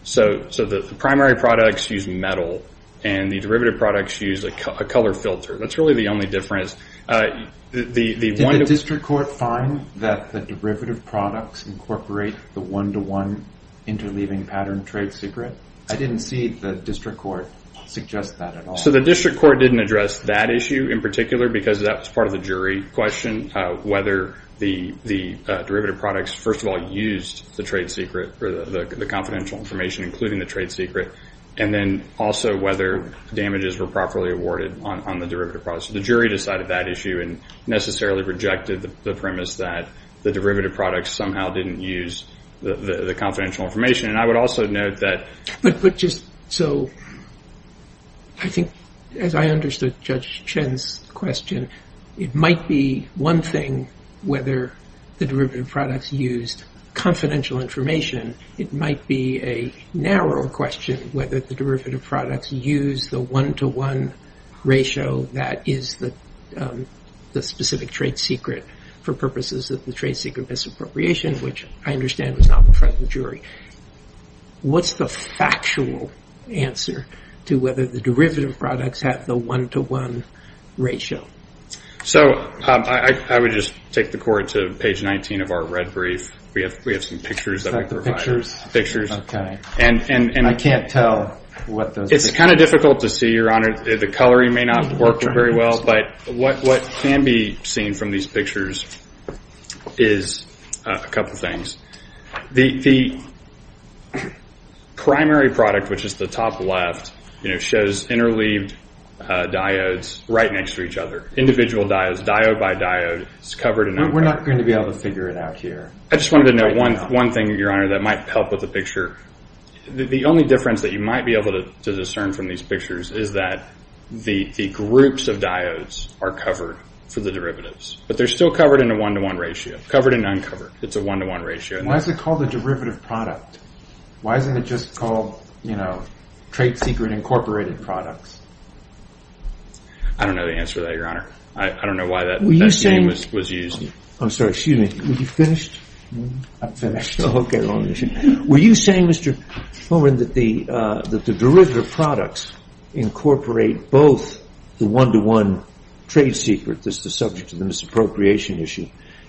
So, the primary products use metal and the derivative products use a color filter. That's really the only difference. Did the district court find that the derivative products incorporate the one-to-one interleaving pattern trade secret? I didn't see the district court suggest that at all. So, the district court didn't address that issue in particular because that's part of the jury question, whether the derivative products, first of all, used the trade secret for the confidential information, including the trade secret, and then also whether damages were properly awarded on the derivative products. The jury decided that issue and necessarily rejected the premise that the derivative products somehow didn't use the confidential information. And I would also note that... As I understood Judge Chen's question, it might be one thing whether the derivative products used confidential information. It might be a narrower question whether the derivative products used the one-to-one ratio that is the specific trade secret for purposes of the trade secret misappropriation, which I understand is not in front of the jury. What's the factual answer to whether the derivative products have the one-to-one ratio? So, I would just take the court to page 19 of our red brief. We have some pictures that we provide. And I can't tell what those are. It's kind of difficult to see, Your Honor. The coloring may not work very well, but what can be seen from these pictures is a couple of things. The primary product, which is the top left, shows interleaved diodes right next to each other. Individual diodes, diode by diode. We're not going to be able to figure it out here. I just wanted to note one thing, Your Honor, that might help with the picture. The only difference that you might be able to discern from these pictures is that the groups of diodes are covered for the derivatives. But they're still covered in a one-to-one ratio. Covered and uncovered. It's a one-to-one ratio. Why is it called a derivative product? Why isn't it just called, you know, trade secret incorporated product? I don't know the answer to that, Your Honor. I don't know why that name was used. I'm sorry, excuse me. Are you finished? I'm finished. Okay. Were you saying, Mr. Holman, that the derivative products incorporate both the one-to-one trade secret that's the subject of the misappropriation issue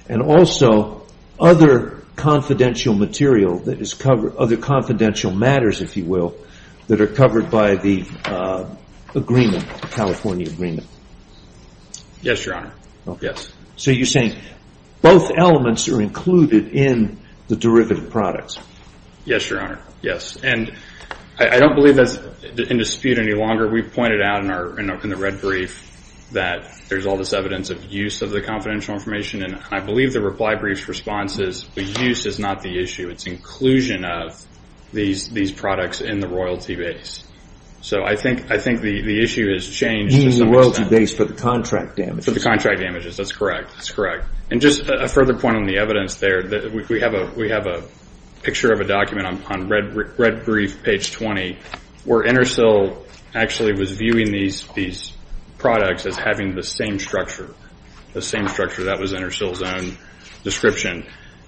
and also other confidential material that is covered, other confidential matters, if you will, that are covered by the agreement, the California agreement? Yes, Your Honor. Yes. So you're saying both elements are included in the derivative products? Yes, Your Honor. Yes. And I don't believe that's in dispute any longer. We've pointed out in the red brief that there's all this evidence of use of the confidential information, and I believe the reply brief's response is the use is not the issue. It's inclusion of these products in the royalty base. So I think the issue has changed. Used in the royalty base for the contract damages. For the contract damages. That's correct. That's correct. And just a further point on the evidence there, we have a picture of a document on red brief, page 20, where Intersil actually was viewing these products as having the same structure, the same structure. That was Intersil's own description.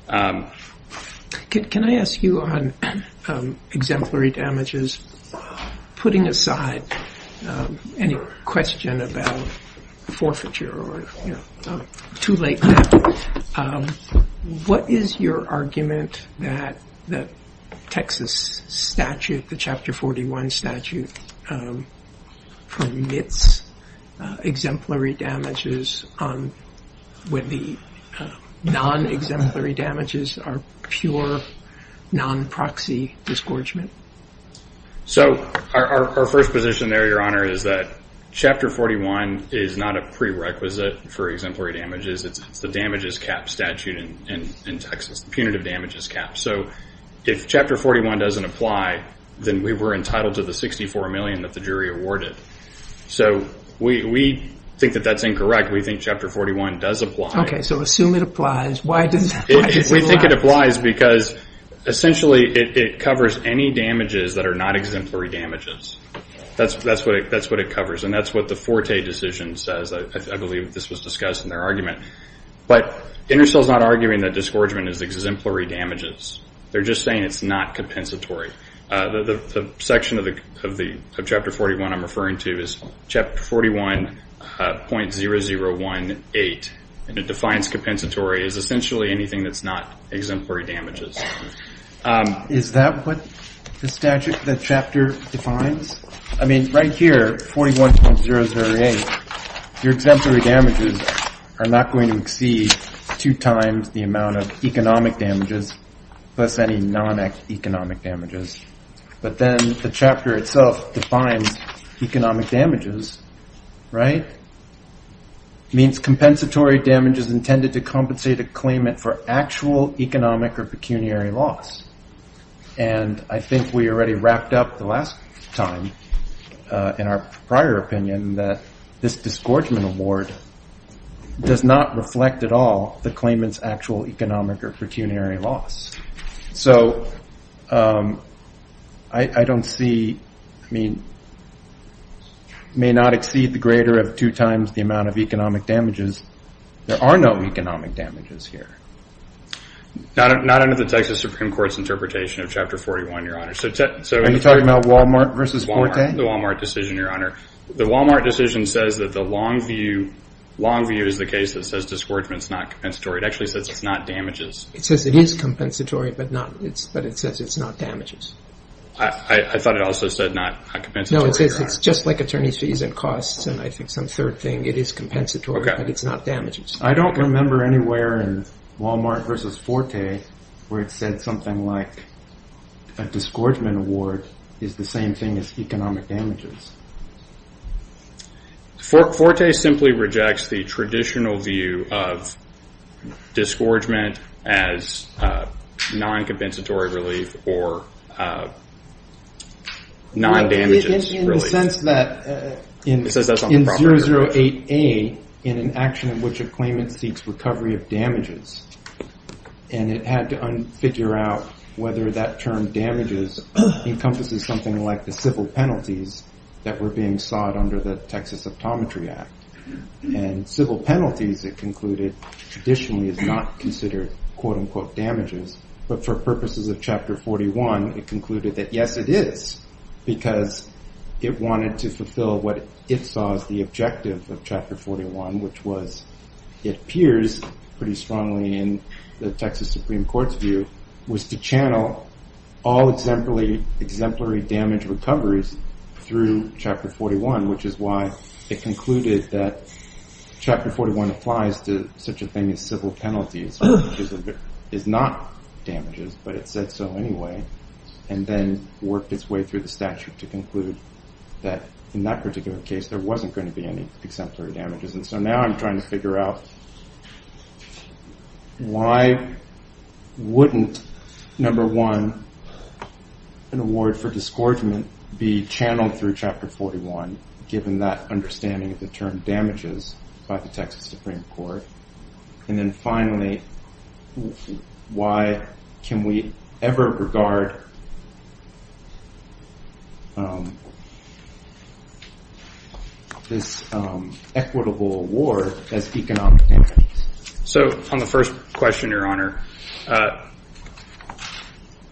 Can I ask you on exemplary damages, putting aside any question about forfeiture or too late, what is your argument that the Texas statute, the Chapter 41 statute, permits exemplary damages when the non-exemplary damages are pure non-proxy disgorgement? So our first position there, Your Honor, is that Chapter 41 is not a prerequisite for exemplary damages. It's the damages cap statute in Texas, punitive damages cap. So if Chapter 41 doesn't apply, then we were entitled to the $64 million that the jury awarded. So we think that that's incorrect. We think Chapter 41 does apply. Okay. So assume it applies. We think it applies because, essentially, it covers any damages that are not exemplary damages. That's what it covers. And that's what the Forte decision says. I believe this was discussed in their argument. But Intersil's not arguing that disgorgement is exemplary damages. They're just saying it's not compensatory. The section of Chapter 41 I'm referring to is Chapter 41.0018, and it defines compensatory as essentially anything that's not exemplary damages. Is that what the chapter defines? I mean, right here, 41.008, your exemplary damages are not going to exceed two times the amount of economic damages plus any non-economic damages. But then the chapter itself defines economic damages, right? It means compensatory damages intended to compensate a claimant for actual economic or pecuniary loss. And I think we already wrapped up the last time in our prior opinion that this disgorgement award does not reflect at all the claimant's actual economic or pecuniary loss. So I don't see, I mean, may not exceed the greater of two times the amount of economic damages. There are no economic damages here. Not under the Texas Supreme Court's interpretation of Chapter 41, Your Honor. Are you talking about Wal-Mart versus Forte? The Wal-Mart decision, Your Honor. The Wal-Mart decision says that the long view, long view is the case that says disgorgement is not compensatory. It actually says it's not damages. It says it is compensatory, but it says it's not damages. I thought it also said not compensatory. No, it says it's just like attorney's fees and costs and I think some third thing. It is compensatory, but it's not damages. I don't remember anywhere in Wal-Mart versus Forte where it said something like a disgorgement award is the same thing as economic damages. Forte simply rejects the traditional view of disgorgement as non-compensatory relief or non-damages relief. In the sense that in 008A, in an action in which a claimant seeks recovery of damages, and it had to figure out whether that term damages encompasses something like the civil penalties that were being sought under the Texas Optometry Act. And civil penalties, it concluded, traditionally is not considered quote-unquote damages. But for purposes of Chapter 41, it concluded that yes, it is. Because it wanted to fulfill what it saw as the objective of Chapter 41, which was, it appears pretty strongly in the Texas Supreme Court's view, was to channel all exemplary damage recoveries through Chapter 41, which is why it concluded that Chapter 41 applies to such a thing as civil penalties. It's not damages, but it said so anyway. And then worked its way through the statute to conclude that in that particular case, there wasn't going to be any exemplary damages. And so now I'm trying to figure out why wouldn't, number one, an award for disgorgement be channeled through Chapter 41, given that understanding of the term damages by the Texas Supreme Court. And then finally, why can we ever regard this equitable award as economic damages? So on the first question, Your Honor,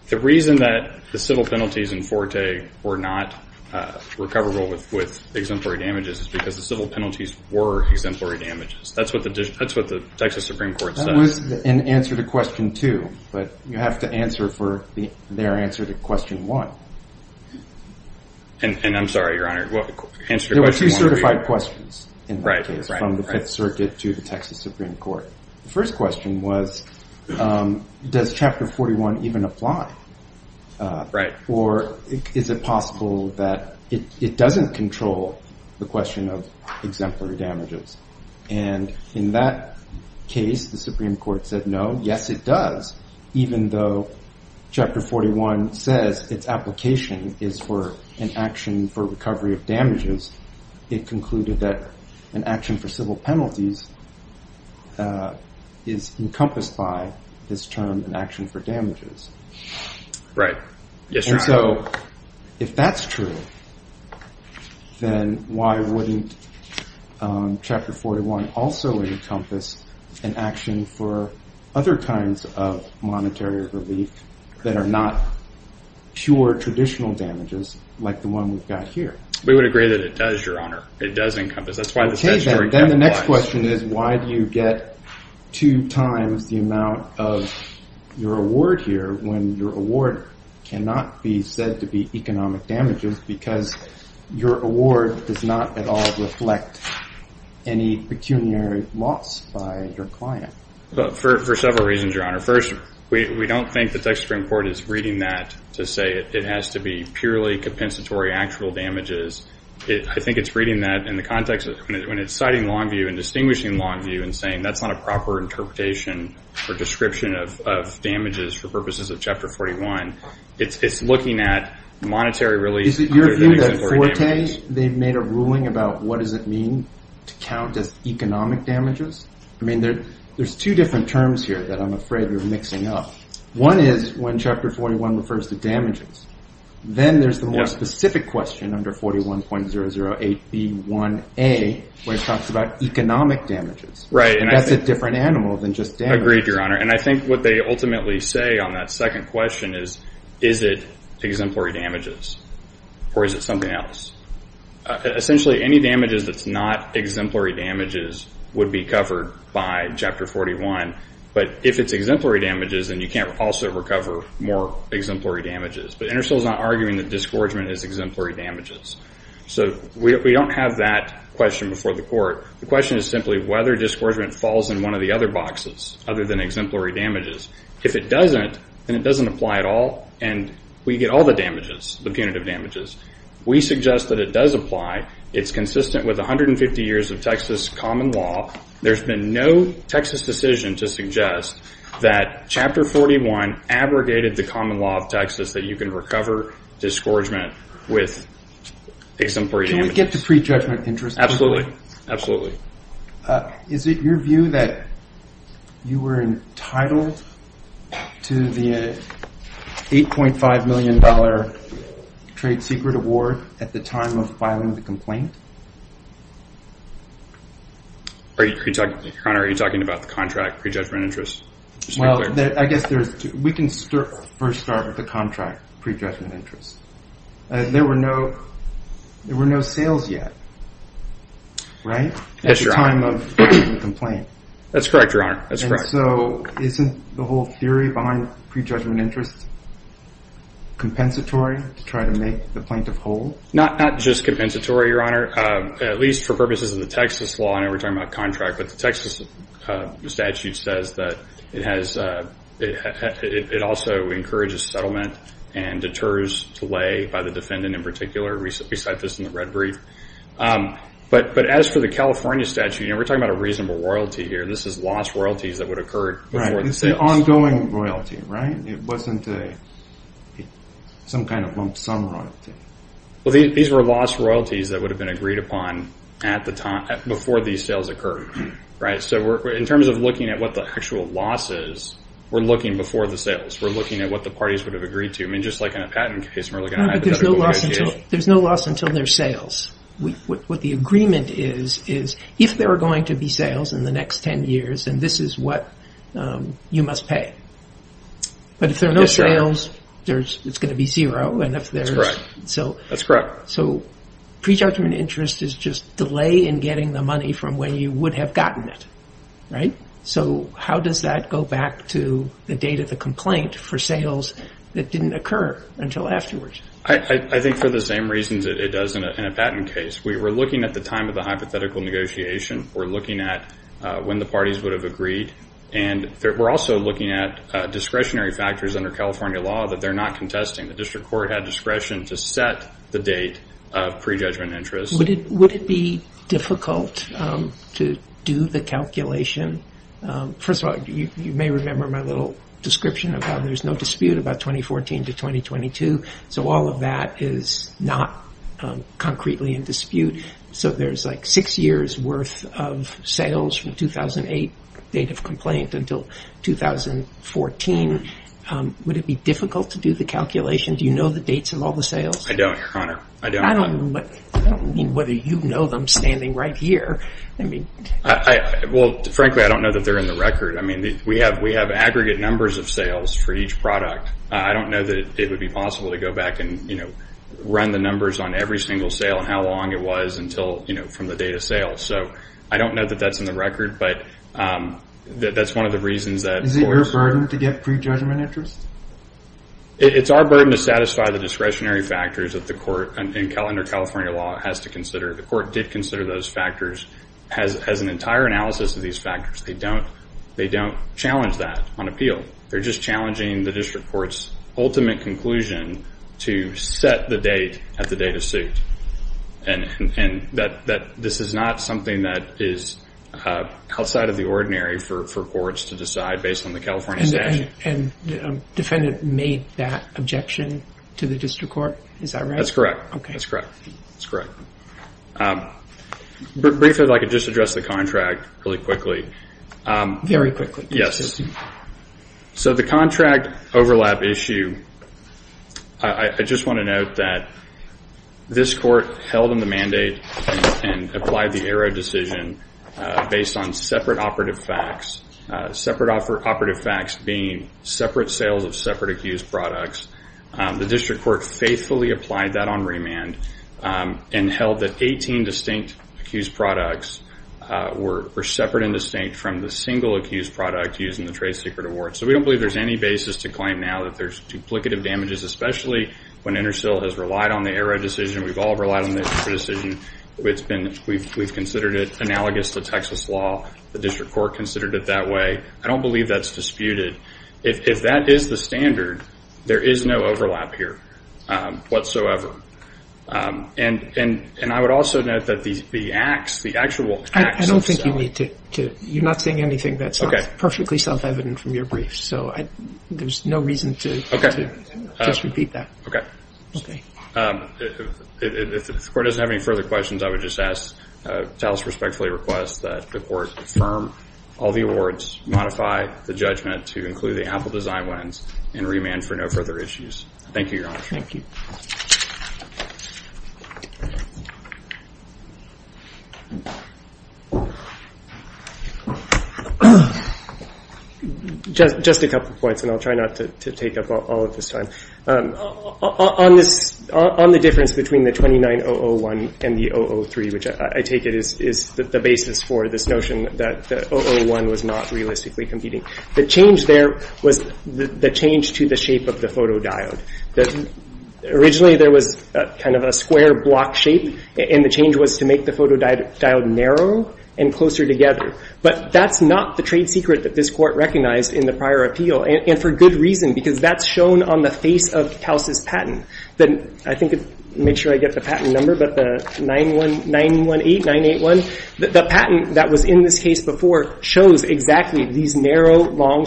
the reason that the civil penalties in Forte were not recoverable with exemplary damages is because the civil penalties were exemplary damages. That's what the Texas Supreme Court said. And answer to question two. But you have to answer for their answer to question one. And I'm sorry, Your Honor. There were two certified questions in that case, from the Fifth Circuit to the Texas Supreme Court. The first question was, does Chapter 41 even apply? Right. Or is it possible that it doesn't control the question of exemplary damages? And in that case, the Supreme Court said no. Yes, it does. Even though Chapter 41 says its application is for an action for recovery of damages, it concluded that an action for civil penalties is encompassed by this term, an action for damages. Right. And so, if that's true, then why wouldn't Chapter 41 also encompass an action for other kinds of monetary relief that are not pure traditional damages like the one we've got here? We would agree that it does, Your Honor. It does encompass. Then the next question is, why do you get two times the amount of your award here when your award cannot be said to be economic damages because your award does not at all reflect any pecuniary loss by your client? For several reasons, Your Honor. First, we don't think the Texas Supreme Court is reading that to say it has to be purely compensatory actual damages. I think it's reading that in the context of when it's citing Longview and distinguishing Longview and saying that's not a proper interpretation or description of damages for purposes of Chapter 41. It's looking at monetary relief. Is it your view that Forte, they've made a ruling about what does it mean to count as economic damages? I mean, there's two different terms here that I'm afraid we're mixing up. One is when Chapter 41 refers to damages. Then there's the more specific question under 41.008B1A where it talks about economic damages. That's a different animal than just damages. I agree with you, Your Honor, and I think what they ultimately say on that second question is, is it exemplary damages or is it something else? Essentially, any damages that's not exemplary damages would be covered by Chapter 41, but if it's exemplary damages, then you can't also recover more exemplary damages. But Intersil's not arguing that disgorgement is exemplary damages. So we don't have that question before the court. The question is simply whether disgorgement falls in one of the other boxes other than exemplary damages. If it doesn't, then it doesn't apply at all, and we get all the damages, the punitive damages. We suggest that it does apply. It's consistent with 150 years of Texas common law. There's been no Texas decision to suggest that Chapter 41 aggregated the common law of Texas that you can recover disgorgement with exemplary damages. Can we get to pre-judgment interest? Absolutely. Is it your view that you were entitled to the $8.5 million trade secret award at the time of filing the complaint? Your Honor, are you talking about the contract pre-judgment interest? Well, I guess we can first start with the contract pre-judgment interest. There were no sales yet, right, at the time of filing the complaint. That's correct, Your Honor. So isn't the whole theory behind pre-judgment interest compensatory to try to make the plaintiff whole? Not just compensatory, Your Honor, at least for purposes of the Texas law. I know we're talking about a contract, but the Texas statute says that it also encourages settlement and deters delay by the defendant in particular. We cite this in the red brief. But as for the California statute, and we're talking about a reasonable royalty here, this is lost royalty that would have occurred. Right, it's an ongoing royalty, right? It wasn't some kind of lump sum royalty. Well, these were lost royalties that would have been agreed upon before these sales occurred. So in terms of looking at what the actual loss is, we're looking before the sales. We're looking at what the parties would have agreed to. I mean, just like in a patent case, we're looking at hypothetical royalties. There's no loss until there's sales. What the agreement is, is if there are going to be sales in the next 10 years, then this is what you must pay. But if there are no sales, it's going to be zero. That's correct. So prejudgment interest is just delay in getting the money from where you would have gotten it, right? So how does that go back to the date of the complaint for sales that didn't occur until afterwards? I think for the same reasons that it does in a patent case. We were looking at the time of the hypothetical negotiation. We're looking at when the parties would have agreed. We're also looking at discretionary factors under California law that they're not contesting. The district court had discretion to set the date of prejudgment interest. Would it be difficult to do the calculation? First of all, you may remember my little description of how there's no dispute about 2014 to 2022. So all of that is not concretely in dispute. So there's like six years worth of sales from 2008 date of complaint until 2014. Would it be difficult to do the calculation? Do you know the dates of all the sales? I don't, Your Honor. I don't know whether you know them standing right here. Well, frankly, I don't know that they're in the record. I mean, we have aggregate numbers of sales for each product. I don't know that it would be possible to go back and, you know, run the numbers on every single sale and how long it was until, you know, from the date of sale. So I don't know that that's in the record, but that's one of the reasons that... Is it your burden to get prejudgment interest? It's our burden to satisfy the discretionary factors that the court under California law has to consider. The court did consider those factors, has an entire analysis of these factors. They don't challenge that on appeal. They're just challenging the district court's ultimate conclusion to set the date at the date of suit. And this is not something that is outside of the ordinary for courts to decide based on the California statute. And the defendant made that objection to the district court? Is that right? That's correct. Okay. That's correct. Briefly, if I could just address the contract really quickly. Very quickly. Yes. So the contract overlap issue, I just want to note that this court held in the mandate and applied the ARRA decision based on separate operative facts. Separate operative facts being separate sales of separate accused products. The district court faithfully applied that on remand and held that 18 distinct accused products were separate and distinct from the single accused product used in the trade secret award. So we don't believe there's any basis to claim now that there's duplicative damages, especially when Intersil has relied on the ARRA decision. We've all relied on the ARRA decision. We've considered it analogous to Texas law. The district court considered it that way. I don't believe that's disputed. If that is the standard, there is no overlap here whatsoever. And I would also note that the actual facts... I don't think you need to... You're not saying anything that's perfectly self-evident from your brief. So there's no reason to just repeat that. Okay. If the court doesn't have any further questions, I would just ask, the court respectfully requests that the court affirm all the awards, modify the judgment to include the ample design lines, and remand for no further issues. Thank you, Your Honor. Thank you. Just a couple points, and I'll try not to take up all of the time. On the difference between the 29-001 and the 003, which I take it is the basis for the notion that the 001 was not realistically competing, the change there was the change to the shape of the photodiode. Originally, there was kind of a square block shape, and the change was to make the photodiode narrow and closer together. But that's not the trade secret that this court recognized in the prior appeal, and for good reason, because that's shown on the face of House's patent. I think to make sure I get the patent number, but the 918, 981, the patent that was in this case before shows exactly these narrow, long,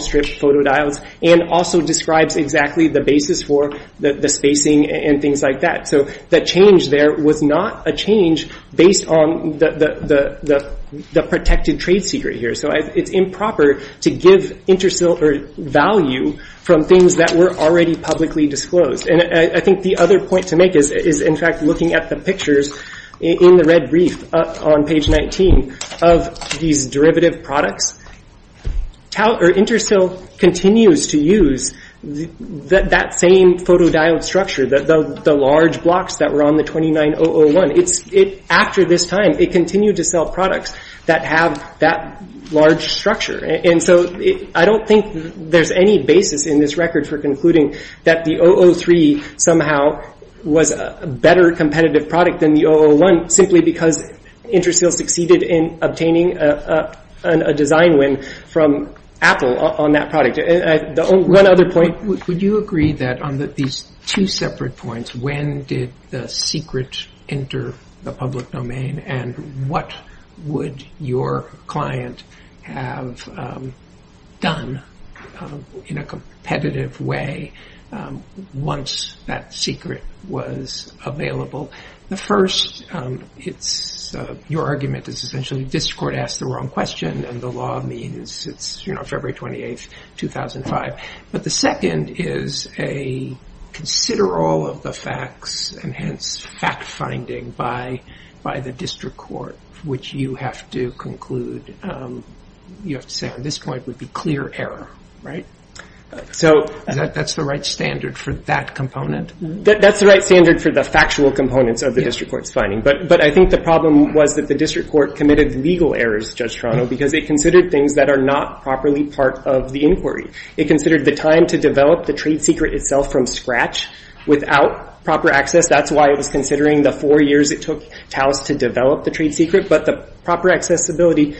and also describes exactly the basis for the spacing and things like that. So the change there was not a change based on the protected trade secret here. So it's improper to give interstitial value from things that were already publicly disclosed. And I think the other point to make is, in fact, looking at the pictures in the red brief on page 19 of these derivative products, interstitial continues to use that same photodiode structure, the large blocks that were on the 29001. After this time, it continued to sell products that have that large structure. And so I don't think there's any basis in this record for concluding that the 003 somehow was a better competitive product than the 001 simply because interstitial succeeded in obtaining a design win from Apple on that product. One other point. Would you agree that on these two separate points, when did the secret enter the public domain and what would your client have done in a competitive way once that secret was available? The first, your argument is essentially this court asked the wrong question and the law means it's February 28th, 2005. But the second is a consider all of the facts and hence fact finding by the district court, which you have to conclude. You have to say at this point would be clear error. Right. So that's the right standard for that component. That's the right standard for the factual components of the district court's finding. But I think the problem was that the district court committed legal errors, Judge Toronto, because it considered things that are not properly part of the inquiry. It considered the time to develop the trade secret itself from scratch without proper access. That's why it was considering the four years it took Taos to develop the trade secret. But the proper accessibility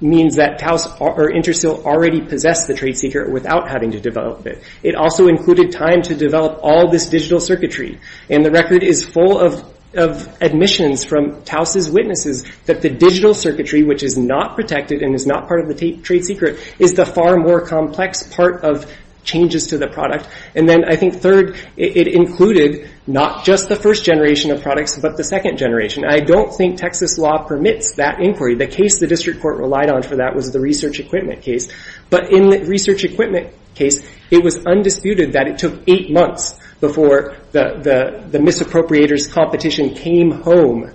means that Taos or interstitial already possessed the trade secret without having to develop it. It also included time to develop all this digital circuitry. And the record is full of admissions from Taos' witnesses that the digital circuitry, which is not protected and is not part of the trade secret, is the far more complex part of changes to the product. And then I think third, it included not just the first generation of products, but the second generation. I don't think Texas law permits that inquiry. The case the district court relied on for that was the research equipment case. But in the research equipment case, it was undisputed that it took eight months before the misappropriator's competition came home.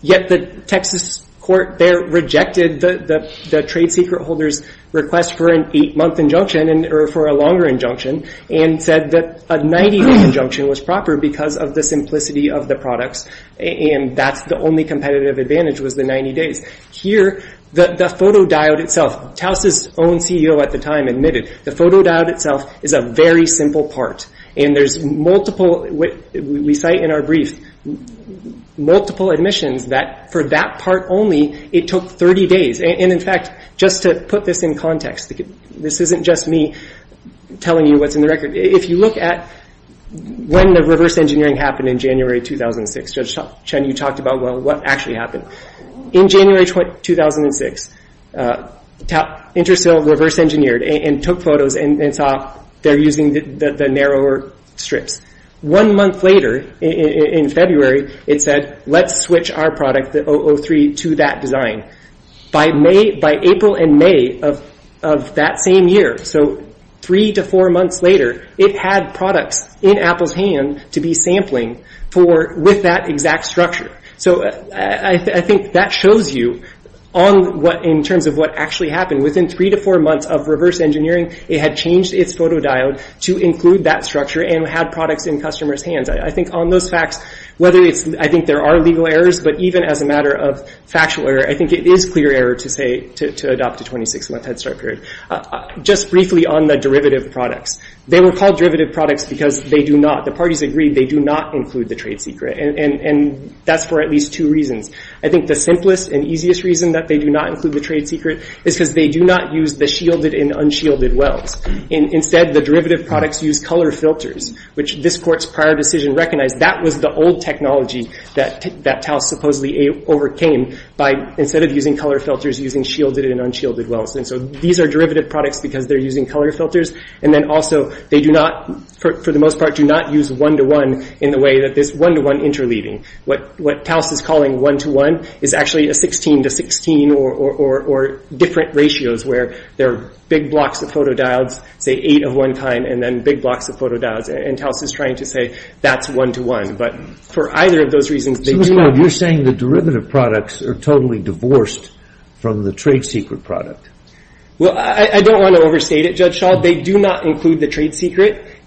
Yet the Texas court there rejected the trade secret holder's request for an eight-month injunction or for a longer injunction and said that a 90-day injunction was proper because of the simplicity of the product. And that's the only competitive advantage was the 90 days. Here, the photodiode itself, Taos' own CEO at the time admitted, the photodiode itself is a very simple part. And there's multiple, we cite in our brief, multiple admissions that for that part only, it took 30 days. And in fact, just to put this in context, this isn't just me telling you what's in the record. If you look at when the reverse engineering happened in January 2006, Judge Chen, you talked about what actually happened. In January 2006, InterCell reverse engineered and took photos and saw they're using the narrower strip. One month later, in February, it said, let's switch our product, the 003, to that design. By April and May of that same year, so three to four months later, it had product in Apple's hands to be sampling with that exact structure. So I think that shows you in terms of what actually happened. Within three to four months of reverse engineering, it had changed its photodiode to include that structure and had product in customers' hands. I think on those facts, I think there are legal errors, but even as a matter of factual error, I think it is clear error to adopt the 26-month head start period. Just briefly on the derivative products. They were called derivative products because they do not, the parties agreed, they do not include the trade secret. That's for at least two reasons. I think the simplest and easiest reason that they do not include the trade secret is because they do not use the shielded and unshielded wells. Instead, the derivative products use color filters, which this court's prior decision recognized that was the old technology that Taos supposedly overcame by instead of using color filters, using shielded and unshielded wells. And so these are derivative products because they're using color filters. And then also, they do not, for the most part, do not use one-to-one in the way that there's one-to-one interleaving. What Taos is calling one-to-one is actually a 16-to-16 or different ratios where there are big blocks of photodiodes, say eight at one time, and then big blocks of photodiodes. And Taos is trying to say that's one-to-one. But for either of those reasons, they do not. So you're saying the derivative products are totally divorced from the trade secret product? Well, I don't want to overstate it, Judge Schall. They do not include the trade secret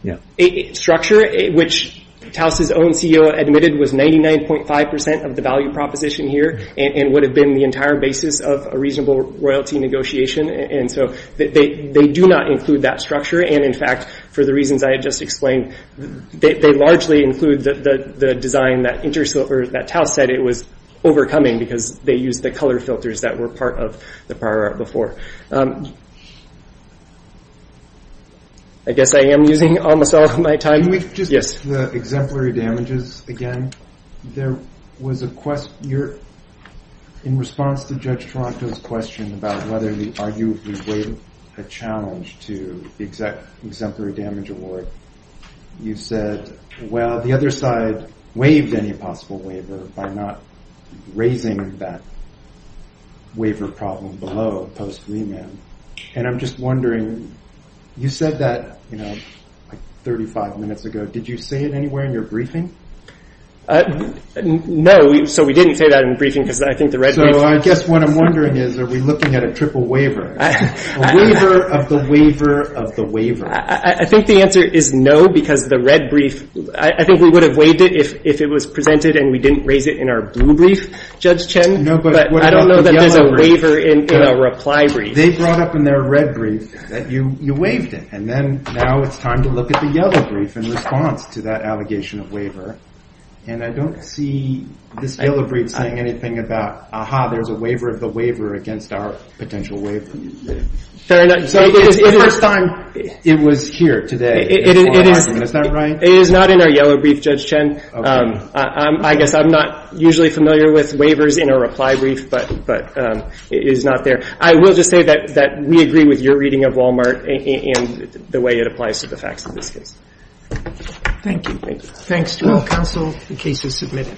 structure, which Taos's own CEO admitted was 99.5% of the value proposition here and would have been the entire basis of a reasonable royalty negotiation. And so they do not include that structure. And in fact, for the reasons I had just explained, they largely include the design that Taos said it was overcoming because they used the color filters that were part of the prior art before. I guess I am using almost all of my time. Can we get to the exemplary damages again? There was a question in response to Judge Tronco's question about whether the arguable waiver is a challenge to the exemplary damage award. You said, well, the other side waives any possible waiver by not raising that waiver problem below post-reman. And I'm just wondering, you said that 35 minutes ago. Did you say it anywhere in your briefing? No, so we didn't say that in the briefing. So I guess what I'm wondering is, are we looking at a triple waiver? A waiver of the waiver of the waiver. I think the answer is no, because the red brief, I think we would have waived it if it was presented and we didn't raise it in our blue brief, Judge Chen. But I don't know that there's a waiver in a reply brief. They brought up in their red brief that you waived it. And now it's time to look at the yellow brief in response to that allegation of waiver. And I don't see this yellow brief saying anything about, aha, there's a waiver of the waiver against our potential waiver. It was here today. It is not in our yellow brief, Judge Chen. I guess I'm not usually familiar with waivers in a reply brief, but it is not there. I will just say that we agree with your reading of Walmart and the way it applies to the facts of the case. Thank you. Thanks to our counsel. The case is submitted.